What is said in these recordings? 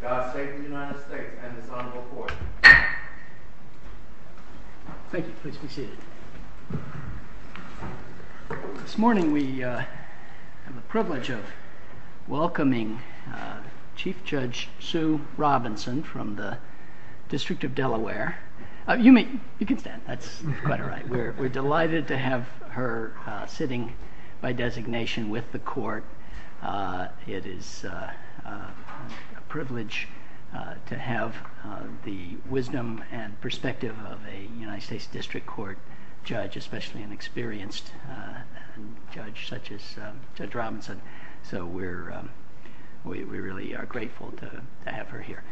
God Save the United States and its Honorable Court Judge. She is a very distinguished judge and we are very privileged to have the wisdom and perspective of a United States District Court judge, especially an experienced judge such as Judge Robinson. So we really are grateful to have her here.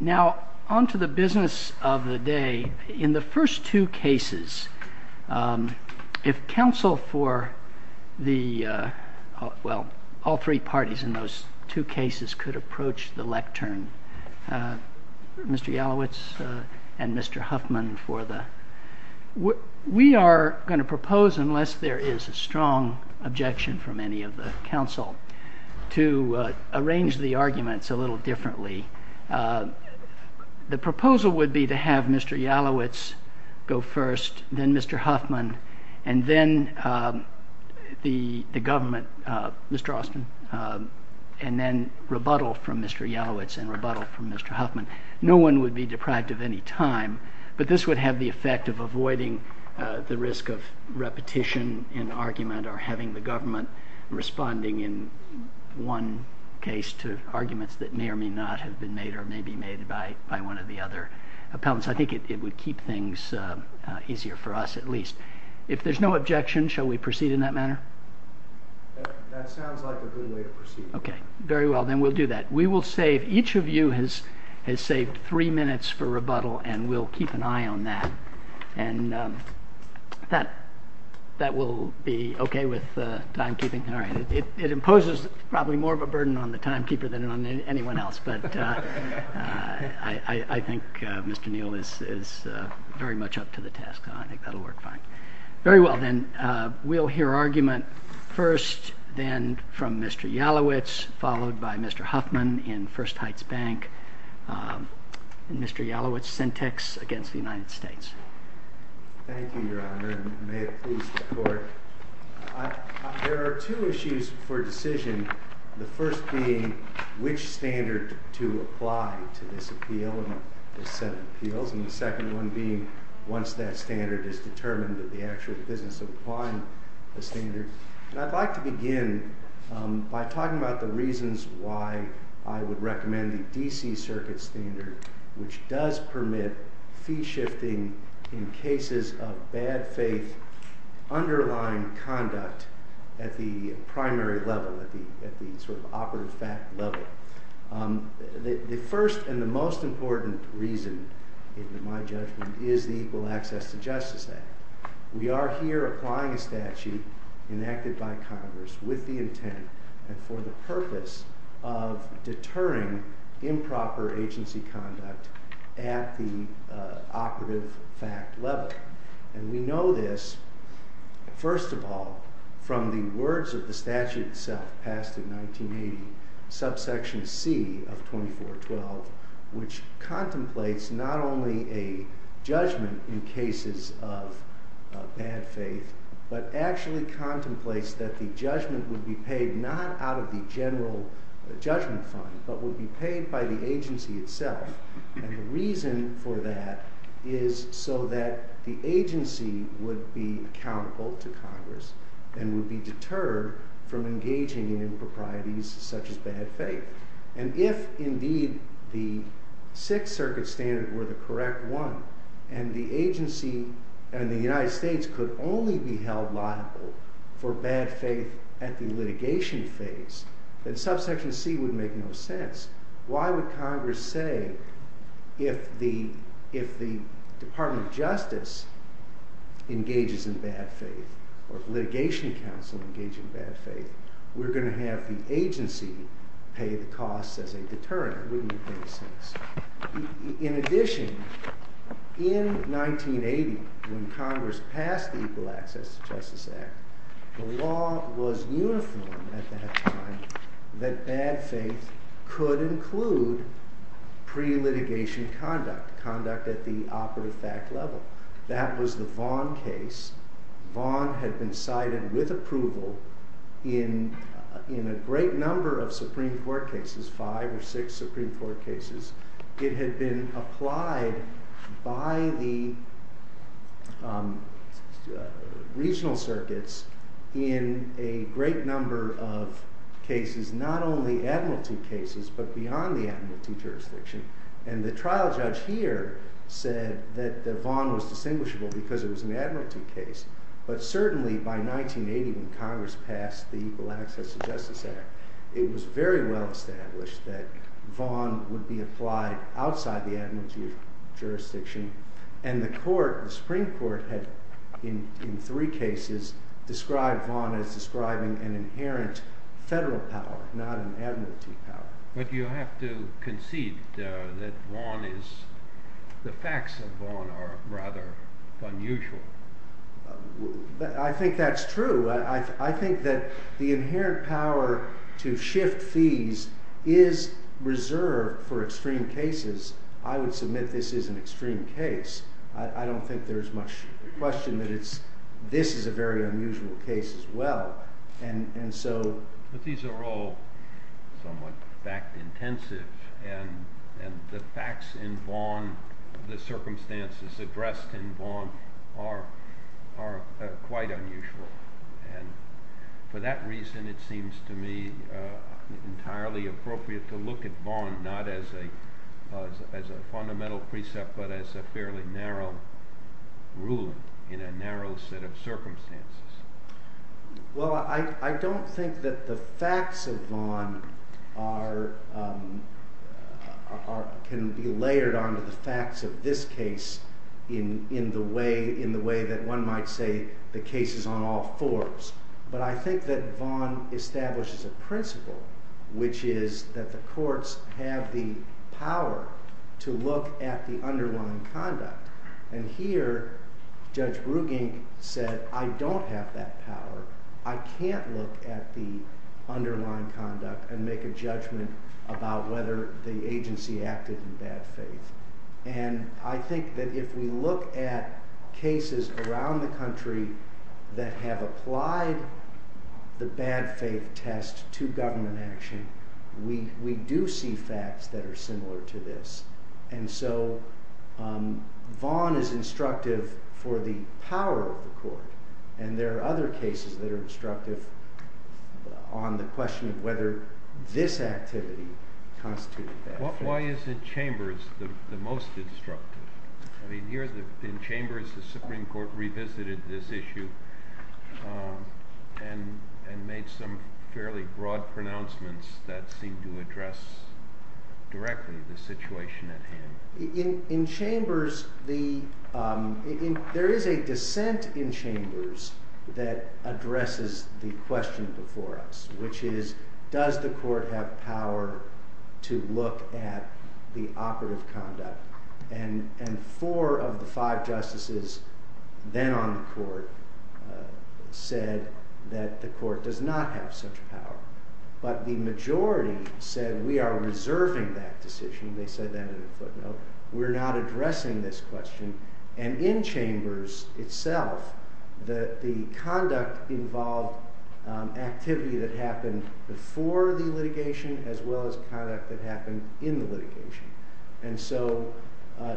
Now on to the business of the day. In the first two cases, if counsel for all three parties in those two cases could approach the lectern, Mr. Jalowitz and Mr. Huffman, we are going to propose, unless there is a strong objection from any of the counsel, to arrange the arguments a little differently. The proposal would be to have Mr. Jalowitz go first, then Mr. Huffman, and then the government, Mr. Austin, and then rebuttal from Mr. Jalowitz and rebuttal from Mr. Huffman. No one would be depract of any time, but this would have the effect of avoiding the risk of repetition in argument or having the government responding in one case to arguments that may not have been made or may be made by one of the other opponents. I think it would keep things easier for us at least. If there is no objection, shall we proceed in that manner? That sounds like a good way of proceeding. Very well, then we'll do that. We will save, each of you has saved three minutes for rebuttal and we'll keep an eye on that. That will be okay with timekeeping. It imposes probably more of a burden on the timekeeper than on anyone else, but I think Mr. Neal is very much up to the task, I think that'll work fine. Very well, then we'll hear argument first, then from Mr. Jalowitz, followed by Mr. Huffman in First Heights Bank, and Mr. Jalowitz, Syntex against the United States. Thank you, Your Honor, and may it please the Court. There are two issues for decision, the first being, which standard to apply to this appeal and this set of appeals, and the second one being, once that standard is determined, that the actual business of applying the standard. I'd like to begin by talking about the reasons why I would recommend the D.C. Circuit standard, which does permit fee shifting in cases of bad faith underlying conduct at the primary level, at the sort of operative fact level. The first and the most important reason, in my judgment, is the Equal Access to Justice Act. We are here applying a statute enacted by Congress with the intent and for the purpose of deterring improper agency conduct at the operative fact level, and we know this, first of all, from the words of the statute itself, passed in 1980, subsection C of 2412, which contemplates not only a judgment in cases of bad faith, but actually contemplates that the judgment would be paid not out of the general judgment fund, but would be paid by the agency itself, and the reason for that is so that the agency would be accountable to Congress, and would be deterred from engaging in improprieties such as bad faith. And if, indeed, the Sixth Circuit standard were the correct one, and the agency and the agency were to be paid at the litigation phase, then subsection C would make no sense. Why would Congress say, if the Department of Justice engages in bad faith, or the litigation counsel engages in bad faith, we're going to have the agency pay the cost as a deterrent? In addition, in 1980, when Congress passed the Equal Access to Justice Act, the law was uniform at that time, that bad faith could include pre-litigation conduct, conduct at the operative fact level. That was the Vaughn case. Vaughn had been cited with approval in a great number of Supreme Court cases, five or six Supreme Court cases. It had been applied by the regional circuits in a number of cases. A great number of cases, not only administrative cases, but beyond the administrative jurisdiction. And the trial judge here said that the Vaughn was distinguishable because it was an administrative case. But certainly, by 1980, when Congress passed the Equal Access to Justice Act, it was very well established that Vaughn would be applied outside the administrative jurisdiction. And the court, the Supreme Court, in three cases, described Vaughn as describing an inherent federal power, not an administrative power. But you have to concede that Vaughn is, the facts of Vaughn are rather unusual. I think that's true. I think that the inherent power to shift fees is reserved for extreme cases. I don't think there's much question that this is a very unusual case as well. But these are all somewhat fact-intensive, and the facts in Vaughn, the circumstances addressed in Vaughn, are quite unusual. And for that reason, it seems to me entirely appropriate to look at Vaughn not as a fundamental precept, but as a fairly narrow rule in a narrow set of circumstances. Well, I don't think that the facts of Vaughn can be layered onto the facts of this case in the way that one might say the case is on all fours. But I think that Vaughn establishes a principle, which is that the courts have the power to look at the underlying conduct. And here, Judge Gruening said, I don't have that power. I can't look at the underlying conduct and make a judgment about whether the agency acted in bad faith. And I think that if we look at cases around the country that have applied the bad faith test to the government action, we do see facts that are similar to this. And so Vaughn is instructive for the power of the court. And there are other cases that are instructive on the question of whether this activity constitutes bad faith. Why isn't Chambers the most instructive? I mean, here in Chambers, the Supreme Court revisited this issue and made some fairly broad pronouncements that seemed to address directly the situation at hand. In Chambers, there is a dissent in Chambers that addresses the question before us, which is, does the court have power to look at the operative conduct? And four of the five justices then on the court said that the court does not have such power. But the majority said we are reserving that decision. They said that on the footnote. We're not addressing this question. And in Chambers itself, the conduct involved activity that happened before the litigation as well as conduct that happened in the litigation. And so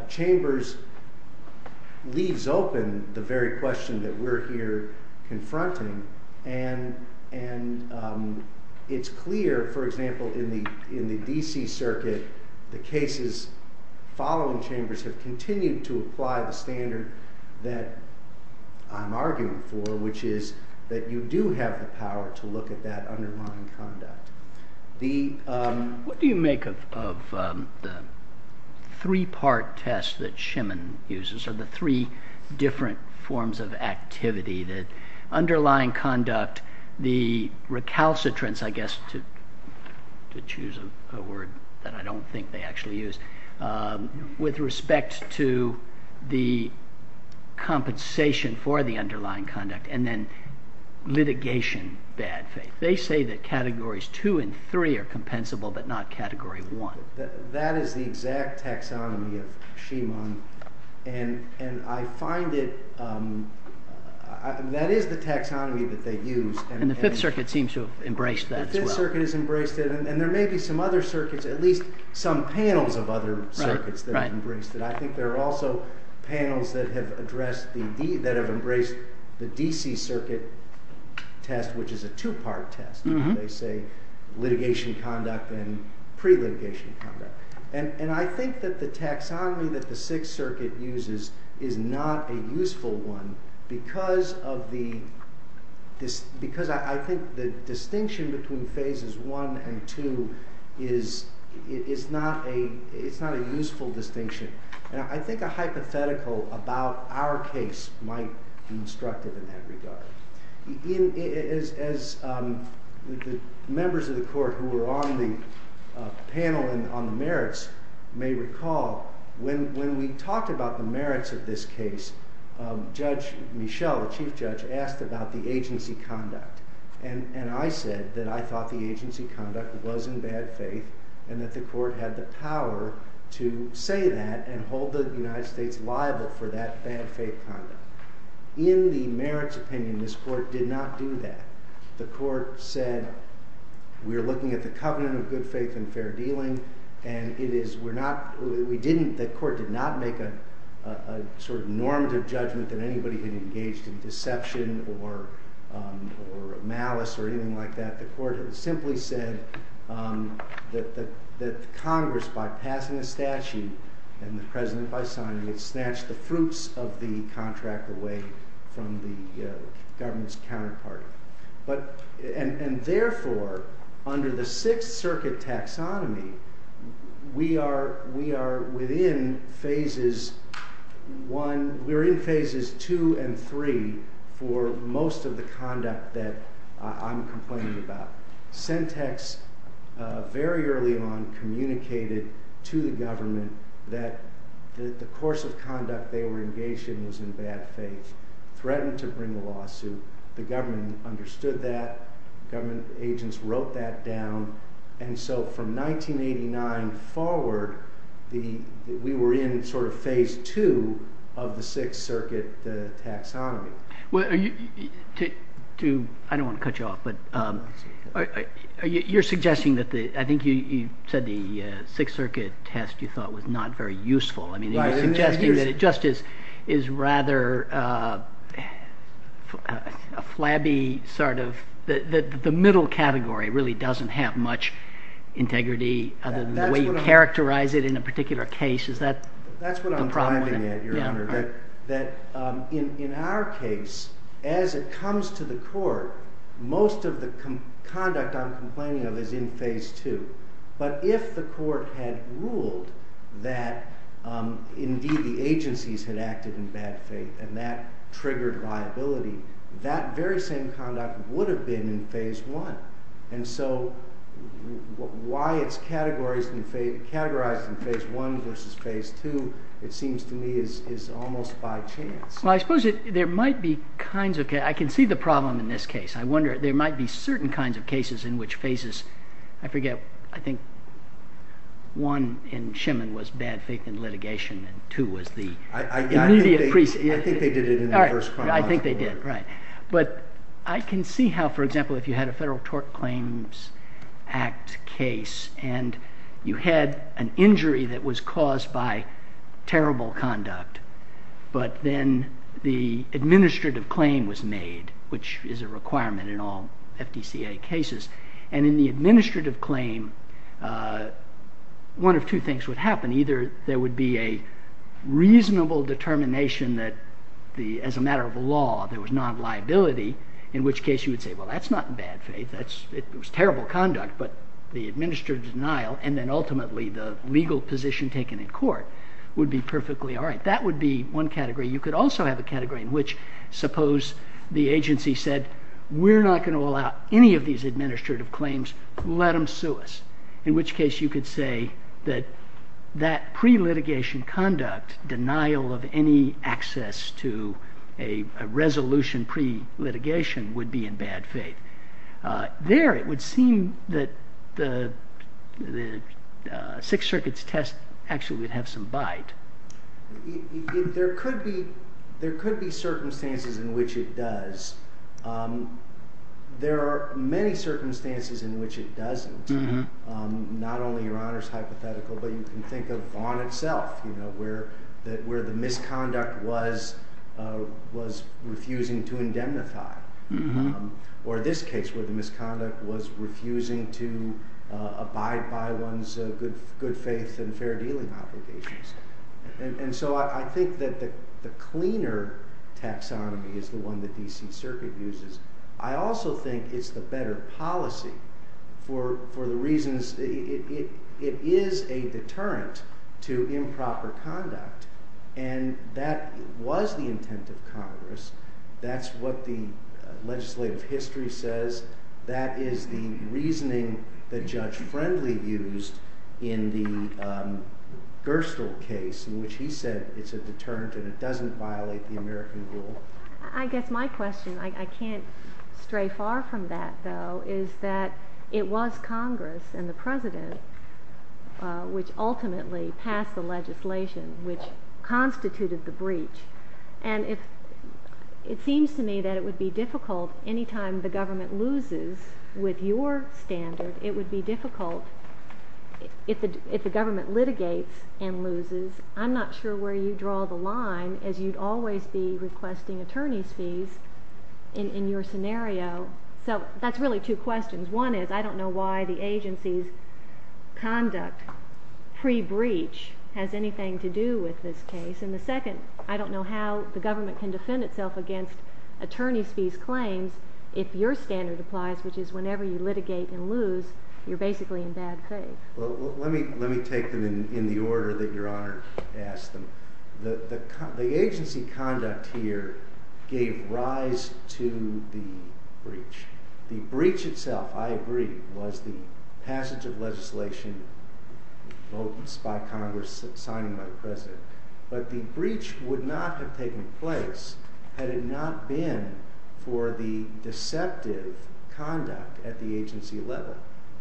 Chambers leaves open the very question that we're here confronting. And it's clear, for example, in the D.C. Circuit, the cases following Chambers have continued to apply the standard that I'm arguing for, which is that you do have the power to look at that underlying conduct. What do you make of the three-part test that Schimann uses, or the three different forms of activity, the underlying conduct, the recalcitrance, I guess, to choose a word that I don't think they actually use, with respect to the compensation for the underlying conduct, and then litigation and bad faith? They say that categories two and three are compensable, but not category one. That is the exact taxonomy of Schimann. And I find it, that is the taxonomy that they use. And the Fifth Circuit seems to have embraced that as well. The Fifth Circuit has embraced it. And there may be some other circuits, at least some panels of other circuits that have embraced it. I think there are also panels that have embraced the D.C. Circuit test, which is a two-part test, where they say litigation conduct and pre-litigation conduct. And I think that the taxonomy that the Sixth Circuit uses is not a useful one, because I think the distinction between phases one and two is not a useful distinction. And I think a hypothetical about our case might be instructive in that regard. As the members of the Court who were on the panel on the merits may recall, when we talked about the merits of this case, Judge Michel, the Chief Judge, asked about the agency conduct. And I said that I thought the agency conduct was in bad faith, and that the Court had the right to do that and hold the United States liable for that bad faith conduct. In the merits opinion, this Court did not do that. The Court said, we are looking at the covenant of good faith and fair dealing, and it is, we're not, we didn't, the Court did not make a sort of normative judgment that anybody had engaged in deception or malice or anything like that. The Court simply said that Congress, by passing a statute, and the President by signing it, snatched the fruits of the contract away from the government's counterpart. And therefore, under the Sixth Circuit taxonomy, we are within phases one, we're in phases two and three for most of the conduct that I'm complaining about. Sentex very early on communicated to the government that the course of conduct they were engaged in was in bad faith. Threatened to bring a lawsuit. The government understood that. Government agents wrote that down. And so from 1989 forward, we were in sort of phase two of the Sixth Circuit taxonomy. Well, to, I don't want to cut you off, but you're suggesting that the, I think you said the Sixth Circuit test you thought was not very useful. I mean, you're suggesting that it just is rather a flabby sort of, the middle category really doesn't have much integrity other than the way you characterize it in a particular case. Is that the problem? Well, I don't know what you're getting at here, Senator, but in our case, as it comes to the court, most of the conduct I'm complaining of is in phase two. But if the court had ruled that indeed the agencies had acted in bad faith and that triggered liability, that very same conduct would have been in phase one. And so why it's categorized in phase one versus phase two, it seems to me, is almost by chance. Well, I suppose there might be kinds of cases, I can see the problem in this case. I wonder, there might be certain kinds of cases in which phases, I forget, I think one in Shemin was bad faith in litigation and two was the immediate pre-case. I think they did it in the first one. I think they did, right. But I can see how, for example, if you had a Federal Tort Claims Act case and you had an injury that was caused by terrible conduct, but then the administrative claim was made, which is a requirement in all FDCA cases. And in the administrative claim, one of two things would happen. Either there would be a reasonable determination that as a matter of law, there was non-liability, in which case you would say, well, that's not bad faith. It was terrible conduct, but the administrative denial and then ultimately the legal position taken in court would be perfectly all right. That would be one category. You could also have a category in which suppose the agency said, we're not going to allow any of these administrative claims, let them sue us. In which case you could say that that pre-litigation conduct, denial of any access to a resolution pre-litigation would be in bad faith. There it would seem that the Sixth Circuit's test actually would have some bite. There could be circumstances in which it does. There are many circumstances in which it doesn't. Not only Your Honor's hypothetical, but you can think of Vaughn itself, where the misconduct was refusing to indemnify. Or this case where the misconduct was refusing to abide by one's good faith and fair dealing obligations. And so I think that the cleaner taxonomy is the one that D.C. Circuit uses. I also think it's the better policy for the reasons that it is a deterrent to improper conduct. And that was the intent of Congress. That's what the legislative history says. That is the reasoning that Judge Frensley used in the Gerstle case in which he said it's a deterrent and it doesn't violate the American rule. I guess my question, I can't stray far from that though, is that it was Congress and the legislature which ultimately passed the legislation which constituted the breach. And it seems to me that it would be difficult anytime the government loses with your standard, it would be difficult if the government litigates and loses. I'm not sure where you draw the line as you'd always be requesting attorney's fees in your scenario. So that's really two questions. One is, I don't know why the agency's conduct pre-breach has anything to do with this case. And the second, I don't know how the government can defend itself against attorney's fees claims if your standard applies, which is whenever you litigate and lose, you're basically in bad faith. Well, let me take them in the order that Your Honor asked them. The agency conduct here gave rise to the breach. The breach itself, I agree, was the passage of legislation by Congress signing by the President. But the breach would not have taken place had it not been for the deceptive conduct at the agency level.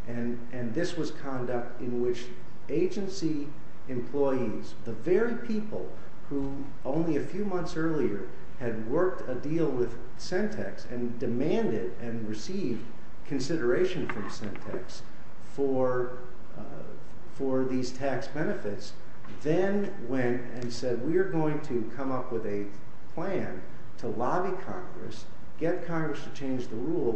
And this was conduct in which agency employees, the very people who only a few months earlier had worked a deal with Sentex and demanded and received consideration from Sentex for these tax benefits, then went and said, we're going to come up with a plan to lobby Congress, get Congress to change the law,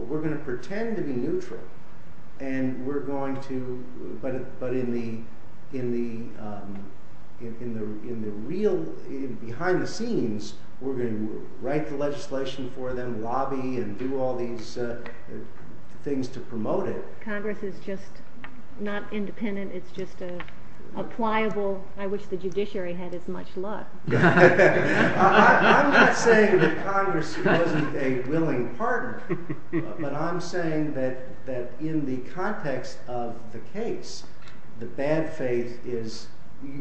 and behind the scenes, we're going to write the legislation for them, lobby, and do all these things to promote it. Congress is just not independent. It's just a pliable, I wish the judiciary had as much luck. I'm not saying that Congress wasn't a willing partner, but I'm saying that in the context of the case, the bad faith is,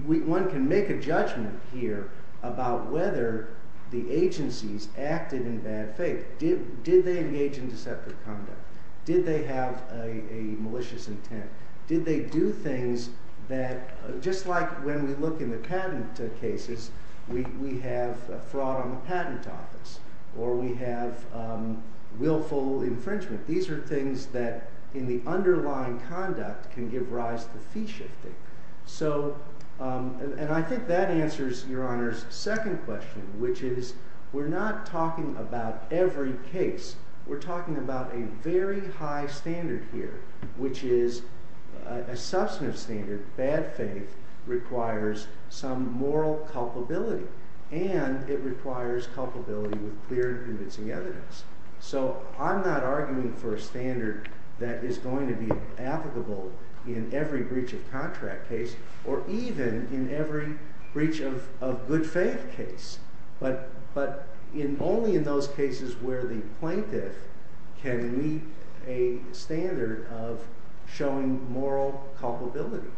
one can make a judgment here about whether the agencies acted in bad faith. Did they engage in deceptive conduct? Did they have a malicious intent? Did they do things that, just like when we look in the patent cases, we have fraud on the patent office, or we have willful infringement. These are things that in the underlying context can give rise to fee shifting. I think that answers your Honor's second question, which is, we're not talking about every case. We're talking about a very high standard here, which is a substantive standard. Bad faith requires some moral culpability, and it requires culpability with clear and convincing evidence. I'm not arguing for a standard that is going to be applicable in every breach of contract case, or even in every breach of good faith case, but only in those cases where the plaintiff can meet a standard of showing moral culpability.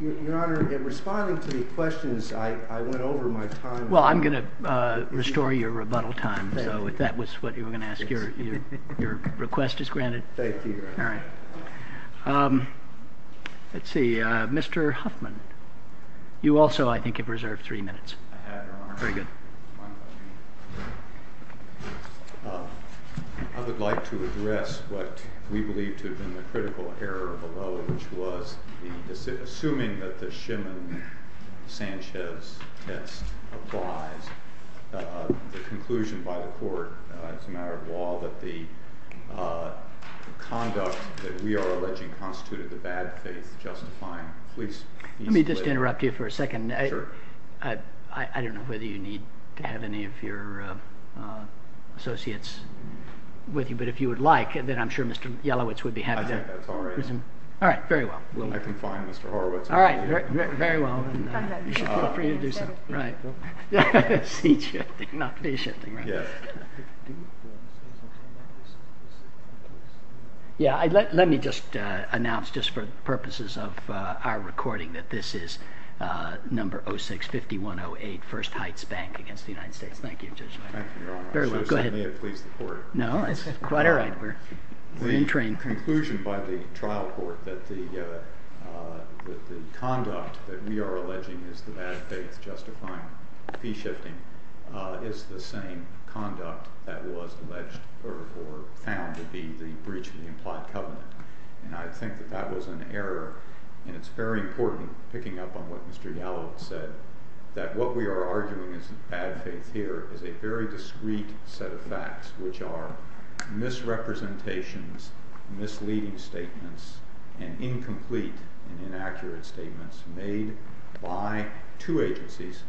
Your Honor, in responding to your questions, I went over my time. Well, I'm going to restore your rebuttal time, so if that was what you were going to ask, your request is granted. Thank you, Your Honor. All right. Let's see, Mr. Huffman, you also, I think, have reserved three minutes. I have, Your Honor. Very good. I would like to address what we believe to have been the critical error below, which was, assuming that the Shimmel-Sanchez test applies, the conclusion by the Court, it's a matter of law, that the conduct that we are alleging constituted the bad faith justifying it. Let me just interrupt you for a second. Sure. I don't know whether you need to have any of your associates with you, but if you would like, then I'm sure Mr. Yelowitz would be happy to. All right. All right. Very well. We'll make him fine, Mr. Horowitz. All right. Very well. Come back. Right. Be patient. Not patient. Yeah. Let me just announce, just for the purposes of our recording, that this is number 06-5108, First Heights Bank, against the United States Bank. Thank you, Judge. Thank you, Your Honor. Very well. Go ahead. May I please report? No. All right. We're in train. The conclusion by the trial court that the conduct that we are alleging is the bad faith justifying P-shifting is the same conduct that was alleged for Pound to be the breach of the implied covenant. And I think that that was an error. And it's very important, picking up on what Mr. Yelowitz said, that what we are arguing as the bad faith here is a very discreet set of facts, which are misrepresentations, misleading statements, and incomplete and inaccurate statements made by two agencies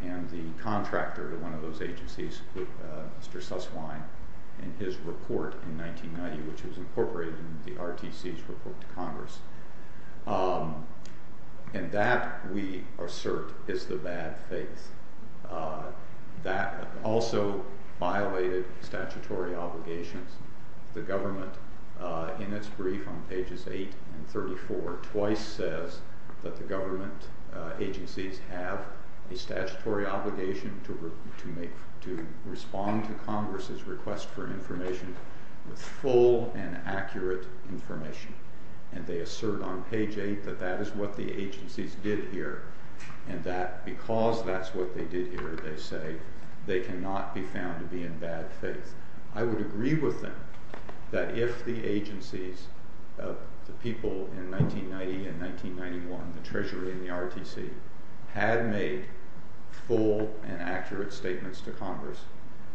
and the contractor of one of those agencies, Mr. Susswein, in his report in 1990, which was incorporated in the RTC's report to Congress. And that, we assert, is the bad faith. That also violated statutory obligations. The government, in its brief on pages 8 and 34, twice says that the government agencies have a statutory obligation to respond to Congress's request for information with full and accurate information. And they assert on page 8 that that is what the agencies did here, and that because that's what they did here, they say, they cannot be found to be in bad faith. I would agree with them that if the agencies of the people in 1990 and 1991, the Treasury and the RTC, had made full and accurate statements to Congress,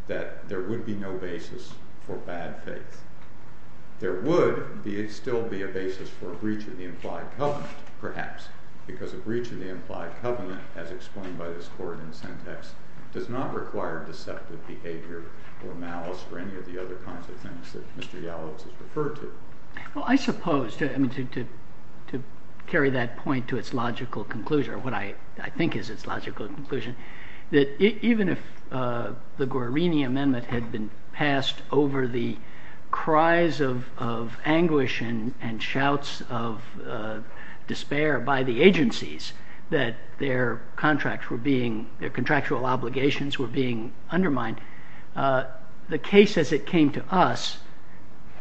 that there would be no basis for bad faith. There would still be a basis for a breach of the implied covenant, perhaps, because a breach of the implied covenant, as explained by this coordinate syntax, does not require deceptive behavior or malice or any of the other kinds of things that Mr. Yalowitz has referred to. Well, I suppose, to carry that point to its logical conclusion, or what I think is its logical conclusion, that even if the Guarini Amendment had been passed over the cries of their contractual obligations were being undermined, the case as it came to us,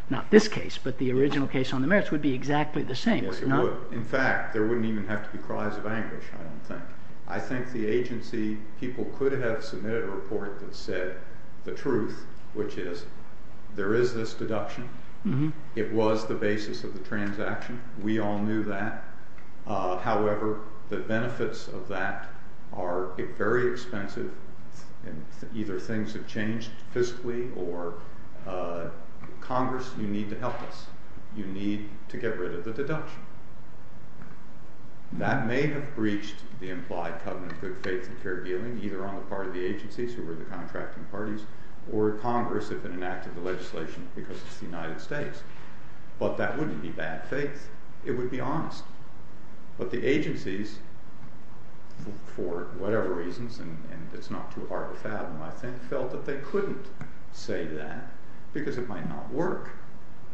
not this case, but the original case on the merits, would be exactly the same. Yes, it would. In fact, there wouldn't even have to be cries of anguish, I don't think. I think the agency people could have submitted a report that said the truth, which is, there is this deduction. It was the basis of the transaction. We all knew that. However, the benefits of that are very expensive, and either things have changed fiscally, or Congress, you need to help us. You need to get rid of the deduction. That may have breached the implied covenant with faith and fair dealing, either on the part of the agencies or with the contracting parties, or Congress, if it enacted the legislation, because it's the United States. But that wouldn't be bad faith. It would be honest. But the agencies, for whatever reasons, and it's not too hard to fathom, I think felt that they couldn't say that, because it might not work.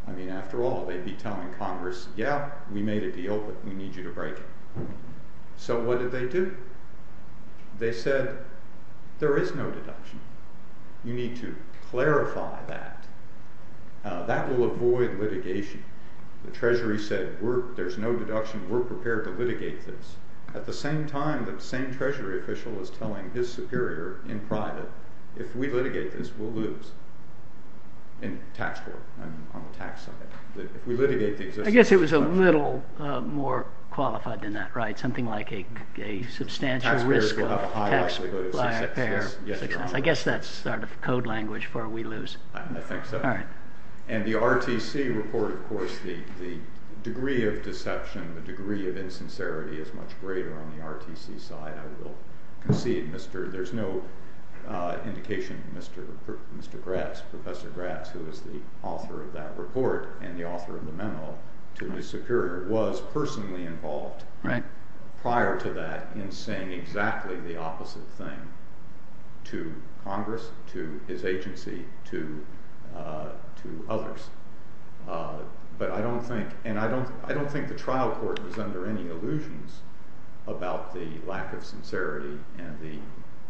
I mean, after all, they'd be telling Congress, yeah, we made a deal, but we need you to break it. So what did they do? They said, there is no deduction. You need to clarify that. That will avoid litigation. The Treasury said, there's no deduction. We're prepared to litigate this. At the same time, the same Treasury official is telling his superior in private, if we litigate this, we'll lose in taxpayer and on the tax side. If we litigate these things. I guess it was a little more qualified than that, right? Something like a substantial risk of taxpayer success. I guess that's sort of code language for we lose. I think so. And the RTC report, of course, the degree of deception, the degree of insincerity is much greater on the RTC side, I will concede. There's no indication that Mr. Gratz, Professor Gratz, who is the author of that report and the author of the memo to his superior, was personally involved prior to that in saying exactly the opposite thing to Congress, to his agency, to others. But I don't think, and I don't think the trial court is under any illusions about the lack of sincerity and the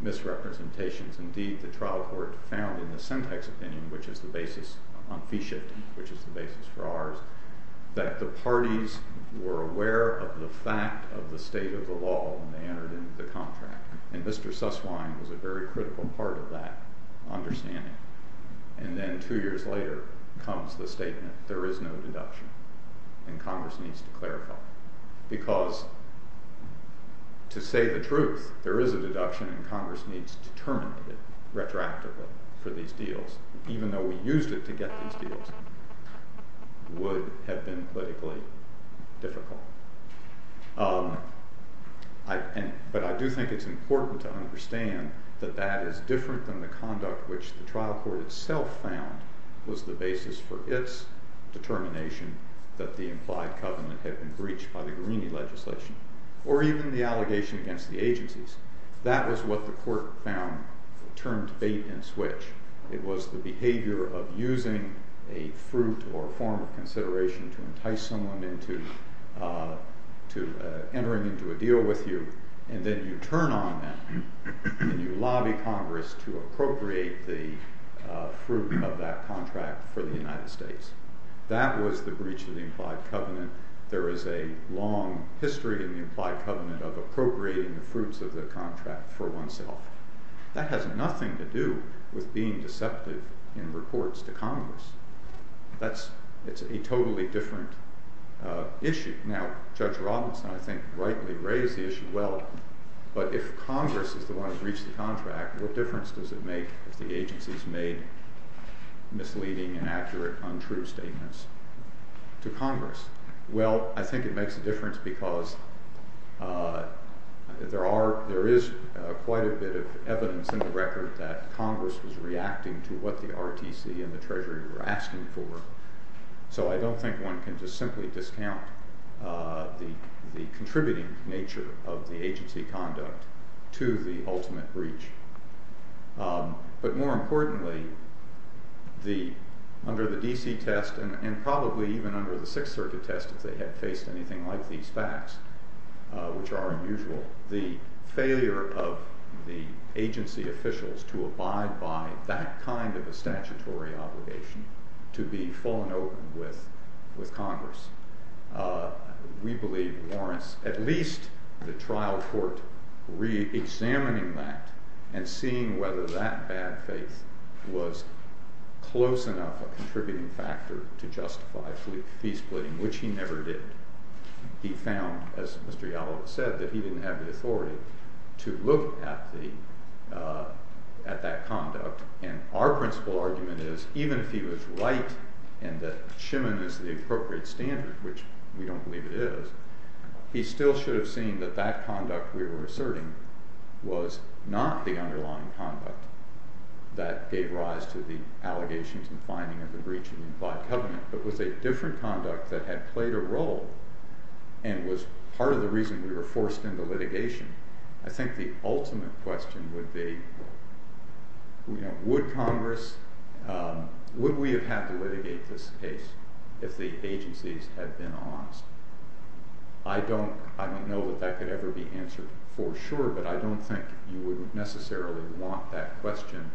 misrepresentations. Indeed, the trial court found in the syntax opinion, which is the basis on fee shifting, which is the basis for ours, that the parties were aware of the fact of the state of the contract, and Mr. Susswine was a very critical part of that understanding. And then two years later comes the statement, there is no deduction, and Congress needs to clarify. Because to say the truth, there is a deduction and Congress needs to terminate it retroactively for these deals, even though we used it to get these deals, would have been politically difficult. But I do think it's important to understand that that is different from the conduct which the trial court itself found was the basis for its determination that the implied covenant had been breached by the Greeney legislation, or even the allegation against the agencies. That is what the court found termed bait and switch. It was the behavior of using a fruit or a form of consideration to entice someone into entering into a deal with you, and then you turn on that, and you lobby Congress to appropriate the fruit of that contract for the United States. That was the breach of the implied covenant. There is a long history of the implied covenant of appropriating the fruits of the contract for oneself. That has nothing to do with being deceptive in reports to Congress. That's a totally different issue. Now, Judge Robinson, I think, rightly raised the issue. Well, but if Congress is the one who breached the contract, what difference does it make if the agencies made misleading, inaccurate, untrue statements to Congress? Well, I think it makes a difference because there is quite a bit of evidence in the record that Congress was reacting to what the RTSD and the Treasury were asking for. So I don't think one can just simply discount the contributing nature of the agency conduct to the ultimate breach. But more importantly, under the D.C. test, and probably even under the Sixth Circuit test, if they had faced anything like these facts, which are unusual, the failure of the agency officials to abide by that kind of a statutory obligation to be full and open with Congress. We believe Lawrence, at least the trial court, re-examining that and seeing whether that bad faith was close enough a contributing factor to justify his plea, which he never did. He found, as Mr. Gallo said, that he didn't have the authority to look at that conduct. And our principle argument is, even if he was right and that Schimann is the appropriate standard, which we don't believe it is, he still should have seen that that conduct we were asserting was not the underlying conduct that gave rise to the allegations and finding of the breach of the implied covenant, but was a different conduct that had played a role and was part of the reason we were forced into litigation. I think the ultimate question would be, would Congress, would we have had to litigate this case if the agencies had been honest? I don't know if that could ever be answered for sure, but I don't think you would necessarily want that question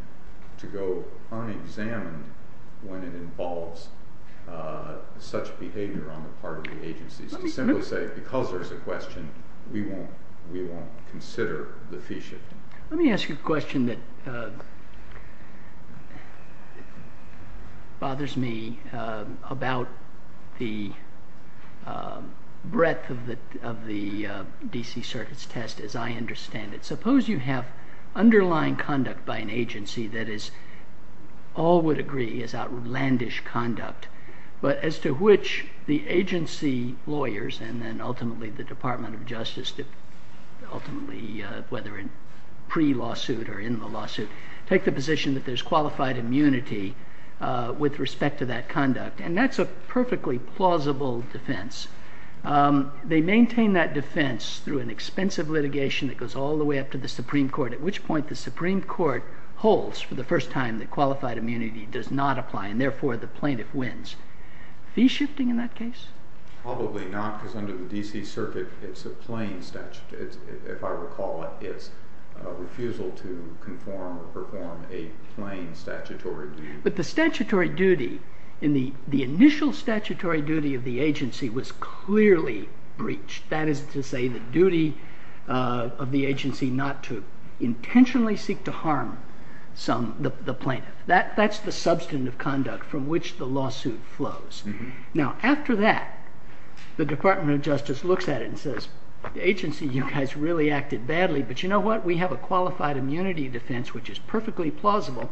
to go unexamined when it involves such behavior on the part of the Let me ask you a question that bothers me about the breadth of the D.C. Circuit's test, as I understand it. Suppose you have underlying conduct by an agency that is, all would agree is outlandish conduct, but as to which the agency lawyers and then ultimately the Department of Justice ultimately, whether in pre-lawsuit or in the lawsuit, take the position that there's qualified immunity with respect to that conduct, and that's a perfectly plausible defense. They maintain that defense through an expensive litigation that goes all the way up to the Supreme Court, at which point the Supreme Court holds for the first time that qualified immunity does not apply, and therefore the plaintiff wins. Is he shifting in that case? Probably not, because under the D.C. Circuit, it's a plain statute. If I recall it, it's a refusal to conform or perform a plain statutory duty. But the initial statutory duty of the agency was clearly breached. That is to say, the duty of the agency not to intentionally seek to harm the plaintiff. That's the substantive conduct from which the lawsuit flows. Now, after that, the Department of Justice looks at it and says, the agency has really acted badly, but you know what? We have a qualified immunity defense, which is perfectly plausible.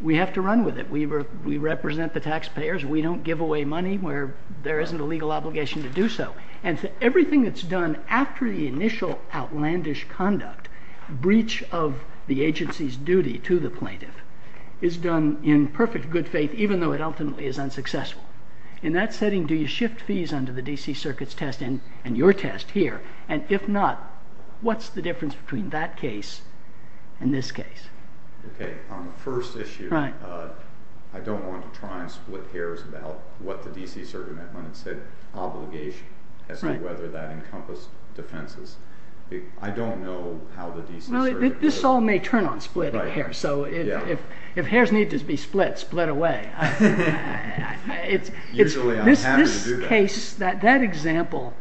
We have to run with it. We represent the taxpayers. We don't give away money where there isn't a legal obligation to do so. And so everything that's done after the initial outlandish conduct, breach of the agency's In that setting, do you shift fees under the D.C. Circuit's test and your test here? And if not, what's the difference between that case and this case? OK. On the first issue, I don't want to try and split hairs about what the D.C. Circuit meant when it said obligation, as to whether that encompassed defenses. I don't know how the D.C. This all may turn on split hair, so if hairs need to be split, split away. Usually I'm happy to do that. That example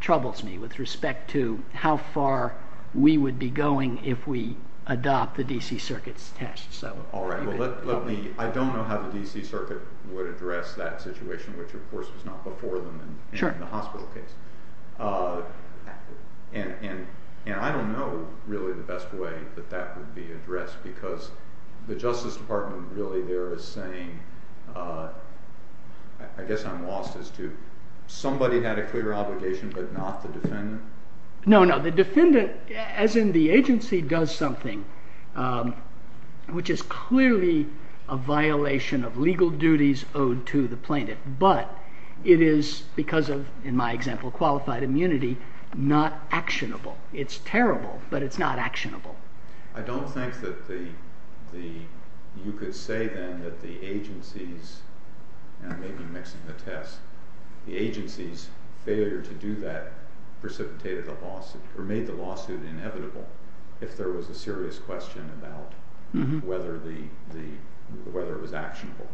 troubles me with respect to how far we would be going if we adopt the D.C. Circuit's test. All right. I don't know how the D.C. Circuit would address that situation, which, of course, was not before the hospital case. And I don't know, really, the best way that that would be addressed because the Justice Department really there is saying, I guess I'm lost as to, somebody had a clear obligation but not the defendant? No, no. The defendant, as in the agency, does something, which is clearly a violation of legal duties owed to the plaintiff. But it is, because of, in my example, qualified immunity, not actionable. It's parable, but it's not actionable. I don't think that the, you could say then that the agencies, and I may be mixing the test, the agencies failure to do that precipitated the lawsuit, or made the lawsuit inevitable, if there was a serious question about whether it was actionable.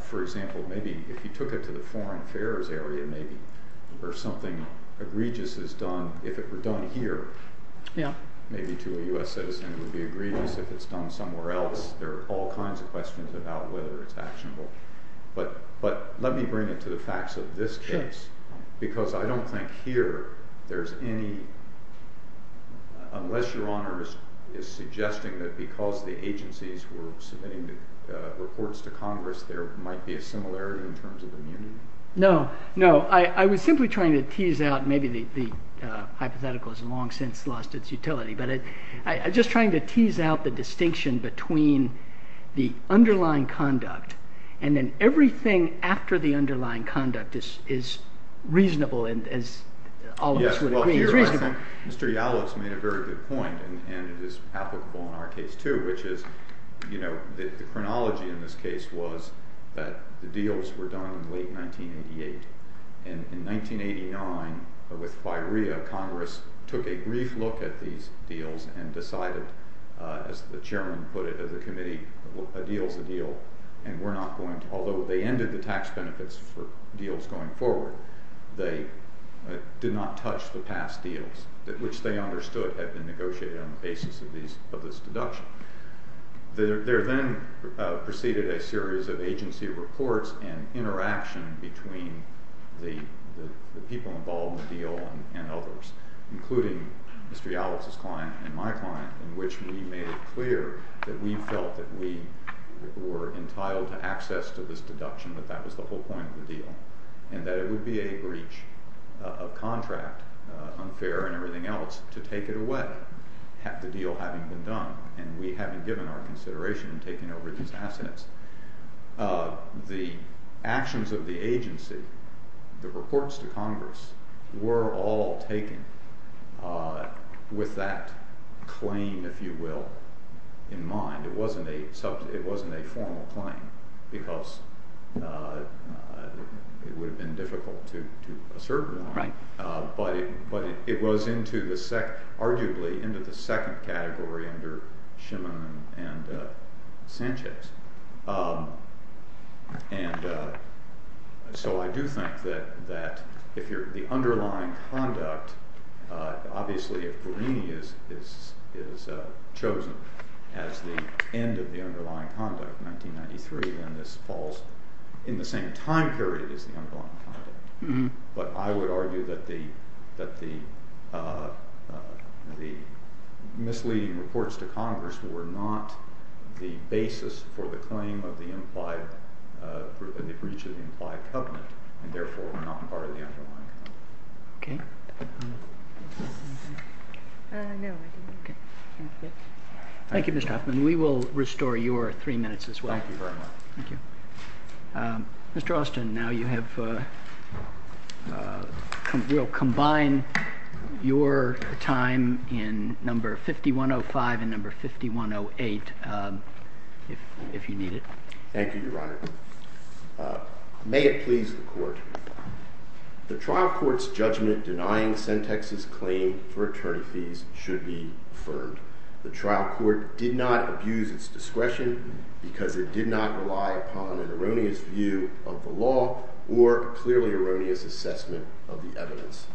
For example, maybe if you took it to the foreign affairs area, maybe where something egregious is done, if it were done here, maybe to a U.S. citizen would be egregious if it's done somewhere else. There are all kinds of questions about whether it's actionable. But let me bring it to the facts of this case because I don't think here there's any, unless Your Honor is suggesting that because the agencies were submitting reports to Congress, there might be a similarity in terms of immunity? No, no. I was simply trying to tease out, maybe the hypothetical has long since lost its utility, but I was just trying to tease out the distinction between the underlying conduct, and then everything after the underlying conduct is reasonable. Mr. Yadlis made a very good point, and it is applicable in our case too, which is the chronology in this case was that the deals were done in late 1988, and in 1989, with FIREA, Congress took a brief look at these deals and decided, as the chairman put it in the committee, a deal's a deal. Although they ended the tax benefits for deals going forward, they did not touch the past deals, which they understood had been negotiated on the basis of this deduction. There then proceeded a series of agency reports and interaction between the people involved in the deal and others, including Mr. Yadlis's client and my client, in which we made it clear that we were entitled to access to this deduction, that that was the whole point of the deal, and that it would be a breach of contract, unfair and everything else, to take it away, the deal having been done, and we having given our consideration in taking over these assets. The actions of the agency, the reports to Congress, were all taken with that claim, if you will, in mind. It wasn't a formal claim, because it would have been difficult to assert one, but it was arguably into the second category under Shimon and Sanchez. And so I do think that the underlying conduct, obviously, for me, is chosen as the end of the underlying conduct, 1993, when this falls in the same time period as the underlying misleading reports to Congress were not the basis for the claim of the breach of the implied covenant, and therefore were not part of the underlying. Thank you, Mr. Hoffman. We will restore your three minutes as well. Thank you very much. Mr. Austin, now you will combine your time in number 5105 and number 5108, if you need it. Thank you, Your Honor. May it please the Court, the trial court's judgment denying Sen. Texas' claim for attorney fees should be affirmed. The trial court did not abuse its discretion because it did not rely upon an erroneous view of the law or clearly erroneous assessment of the evidence.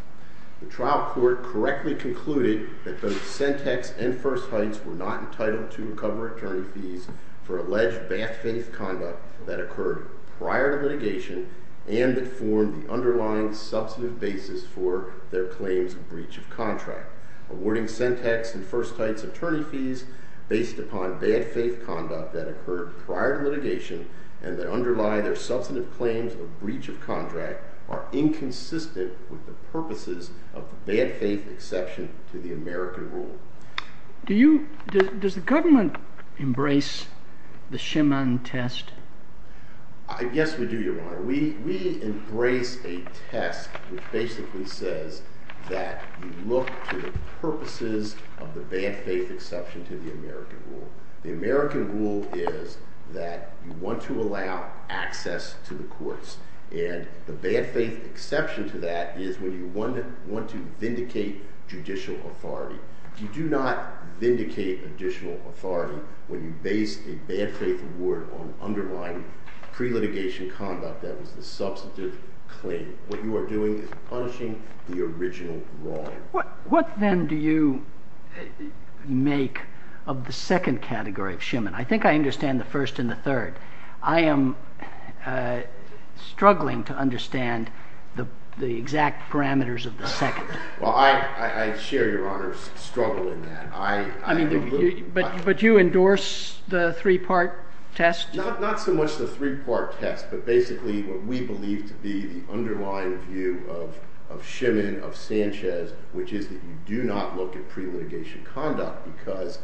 The trial court correctly concluded that both Sen. Texas and First Heights were not entitled to recover attorney fees for alleged backstreet conduct that occurred prior to litigation and that formed the underlying substantive basis for their claims of breach of contract. Awarding Sen. Texas and First Heights attorney fees based upon bad faith conduct that occurred prior to litigation and that underlie their substantive claims of breach of contract are inconsistent with the purposes of the bad faith exception to the American rule. Does the government embrace the Shimon test? Yes, we do, Your Honor. We embrace a test that basically says that you look to the purposes of the bad faith exception to the American rule. The American rule is that you want to allow access to the courts and the bad faith exception to that is when you want to vindicate judicial authority. You do not vindicate judicial authority when you base a bad faith award on underlying pre-litigation conduct that was a substantive claim. What you are doing is punishing the original wrong. What then do you make of the second category of Shimon? I think I understand the first and the third. I am struggling to understand the exact parameters of the second. Well, I share Your Honor's struggle in that. But you endorse the three-part test? Not so much the three-part test, but basically what we believe to be the underlying view of Shimon, of Sanchez, which is that you do not look at pre-litigation conduct because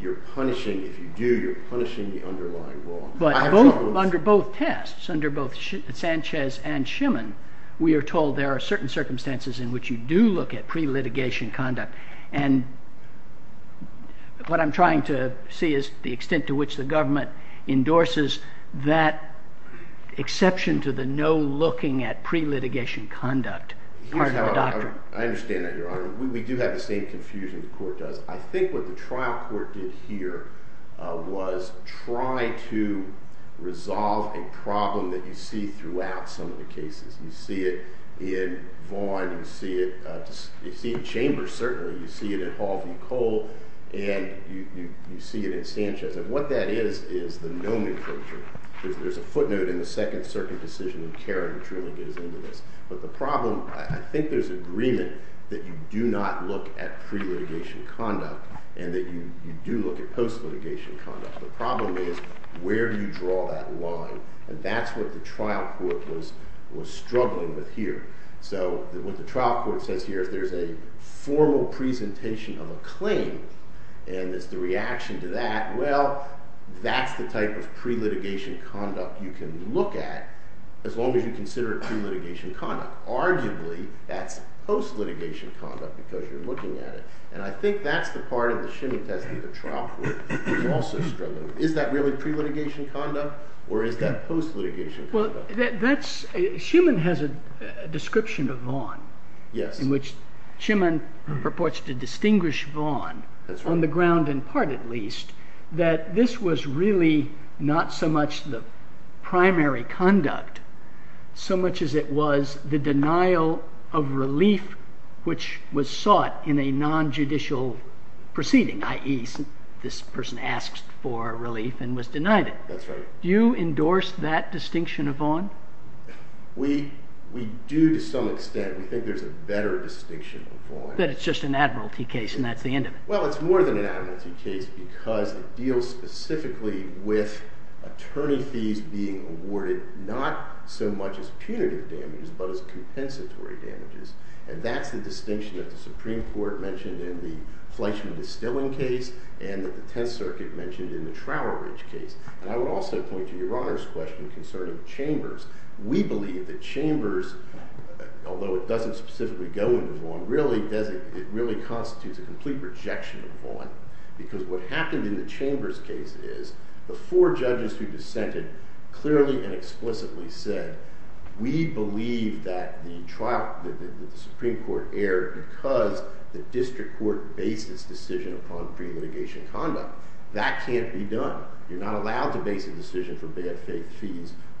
you are punishing, if you do, you are punishing the underlying wrong. But under both tests, under both Sanchez and Shimon, we are told there are certain circumstances in which you do look at pre-litigation conduct. And what I am trying to see is the extent to which the government endorses that exception to the no looking at pre-litigation conduct. I understand that, Your Honor. We do have the same confusion the court does. I think what the trial court did here was try to resolve a problem that you see throughout some of the cases. You see it in Vaughn. You see it in Chambers, certainly. You see it in Hall v. Cole. And you see it in Sanchez. And what that is, is the nomenclature. There is a footnote in the second circuit decision that Kerry truly is in there. But the problem, I think there is agreement that you do not look at pre-litigation conduct and that you do look at post-litigation conduct. The problem is, where do you draw that line? And that's what the trial court was struggling with here. So what the trial court says here, if there is a formal presentation of a claim, and the reaction to that, well, that's the type of pre-litigation conduct you can look at, as long as you consider it pre-litigation conduct. Arguably, that's post-litigation conduct, because you're looking at it. And I think that's the part of the Shinning Test that the trial court was also struggling with. Is that really pre-litigation conduct, or is that post-litigation conduct? Schuman has a description of Vaughan, in which Schuman purports to distinguish Vaughan, on the ground in part at least, that this was really not so much the primary conduct, so much as it was the denial of relief which was sought in a non-judicial proceeding, i.e., this person asked for relief and was denied it. That's right. Do you endorse that distinction of Vaughan? We do to some extent. We think there's a better distinction of Vaughan. That it's just an admiralty case, and that's the end of it. Well, it's more than an admiralty case, because it deals specifically with attorneys being awarded not so much as punitive damages, but as compensatory damages. And that's the distinction that the Supreme Court mentioned in the Fleishman and Stilling case, and that the Tenth Circuit mentioned in the Trowel Ridge case. And I would also point to Your Honor's question concerning Chambers. We believe that Chambers, although it doesn't specifically go into Vaughan, really, it really constitutes a complete rejection of Vaughan. Because what happened in the Chambers case is, the four judges who dissented clearly and explicitly said, we believe that the Supreme Court erred because the district court based its decision upon pre-litigation conduct. That can't be done. You're not allowed to base a decision from the SAC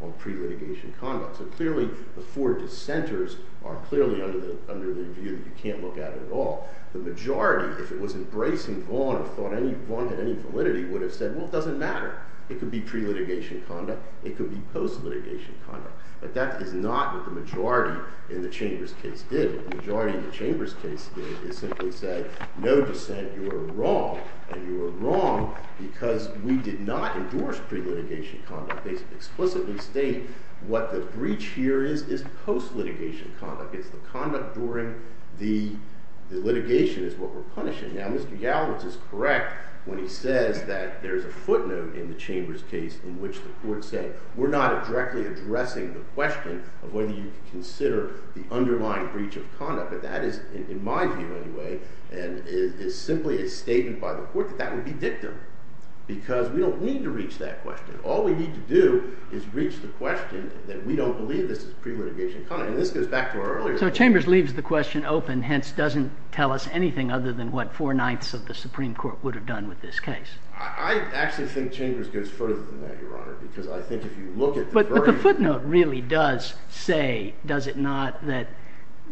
on pre-litigation conduct. So clearly, the four dissenters are clearly under the view that you can't look at it at all. The majority, if it wasn't Brace and Vaughan who thought anyone had any validity, would have said, well, it doesn't matter. It could be pre-litigation conduct. It could be post-litigation conduct. But that is not what the majority in the Chambers case did. The majority in the Chambers case did is simply said, no dissent. You are wrong. And you are wrong because we did not endorse pre-litigation conduct. It explicitly states what the breach here is, is post-litigation conduct. It's the conduct boring. The litigation is what we're punishing. Now, Mr. Gallant is correct when he said that there's a footnote in the Chambers case in which the court said, we're not directly addressing the question of whether you consider the underlying breach of conduct. But that is, in my view anyway, and it simply is stated by the court that that would be dictum because we don't need to reach that question. All we need to do is reach the question that we don't believe this is pre-litigation conduct. And this goes back to our earlier point. So Chambers leaves the question open, hence doesn't tell us anything other than what four ninths of the Supreme Court would have done with this case. I actually think Chambers goes further than that, Your Honor, because I think if you look at the version. But the footnote really does say, does it not, that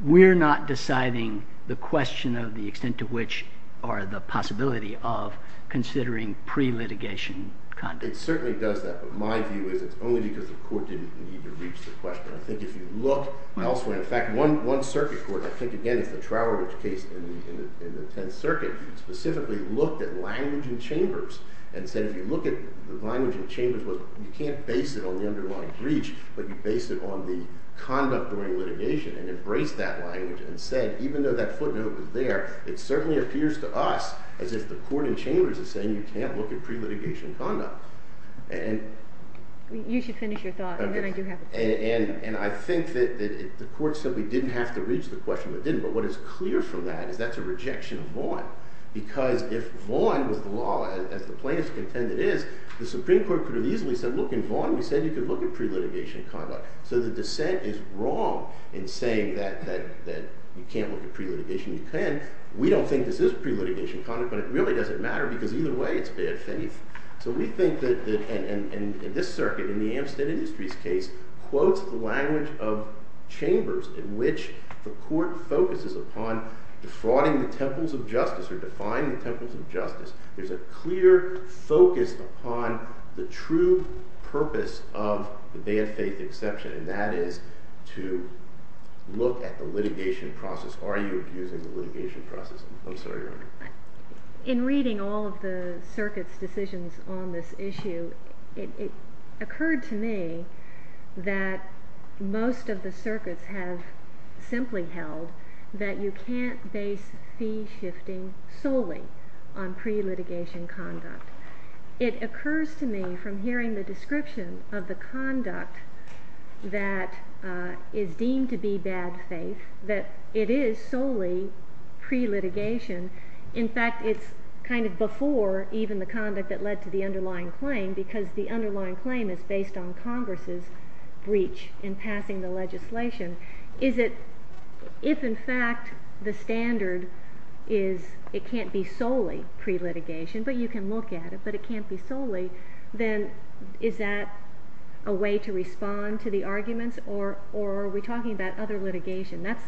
we're not deciding the question of the extent to which or the possibility of considering pre-litigation conduct. It certainly does that. But my view is it's only because the court didn't need to reach the question. I think if you look elsewhere, in fact, one circuit court, I think again it's the Troward case in the 10th Circuit, specifically looked at language in Chambers and said if you look at the language in Chambers, you can't base it on the underlying breach, but you base it on the conduct during litigation. And it breaks that language and said, even though that footnote was there, it certainly appears to us as if the court in Chambers is saying you can't look at pre-litigation conduct. And. You should finish your thought and then I do have. And I think that if the court simply didn't have to reach the question, it didn't. But what is clear from that is that's a rejection of Vaughan. Because if Vaughan was the law, as the plaintiff's contended is, the Supreme Court could have easily said, look, in Vaughan we said you could look at pre-litigation conduct. So the dissent is wrong in saying that you can't look at pre-litigation conduct. We don't think this is pre-litigation conduct, but it really doesn't matter because either way it's bad. So we think that in this circuit, in the Amstead Industries case, quotes the language of Chambers in which the court focuses upon defrauding the temples of justice or defying the temples of justice. There's a clear focus upon the true purpose of the death date exception. And that is to look at the litigation process. Are you accusing the litigation process? I'm sorry. In reading all of the circuit's decisions on this issue, it occurred to me that most of the circuits have simply held that you can't base fee shifting solely on pre-litigation conduct. It occurs to me from hearing the description of the conduct that is deemed to be bad faith that it is solely pre-litigation. In fact, it's kind of before even the conduct that led to the underlying claim because the If, in fact, the standard is it can't be solely pre-litigation, but you can look at it, but it can't be solely, then is that a way to respond to the arguments? Or are we talking about other litigation? That's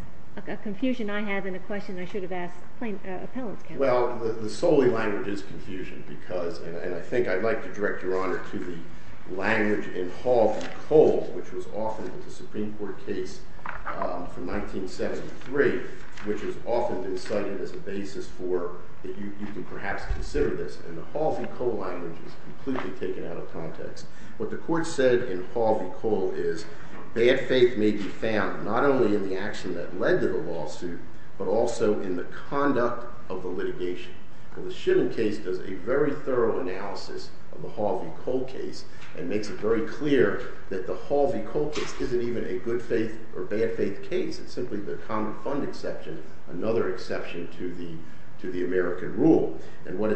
a confusion I have and a question I should have asked the plaintiff's counsel. Well, the solely language is confusion because, and I think I'd like to direct your honor to the language in Hall v. Cole, which was offered as a Supreme Court case from 1973, which has often been cited as a basis for that you can perhaps consider this. And the Hall v. Cole language is completely taken out of context. What the court said in Hall v. Cole is bad faith may be found not only in the action that led to the lawsuit, but also in the conduct of the litigation. Well, the Shiven case does a very thorough analysis of the Hall v. Cole case and makes it very clear that the Hall v. Cole case isn't even a good faith or bad faith case. It's simply the common fund exception, another exception to the American rule. And what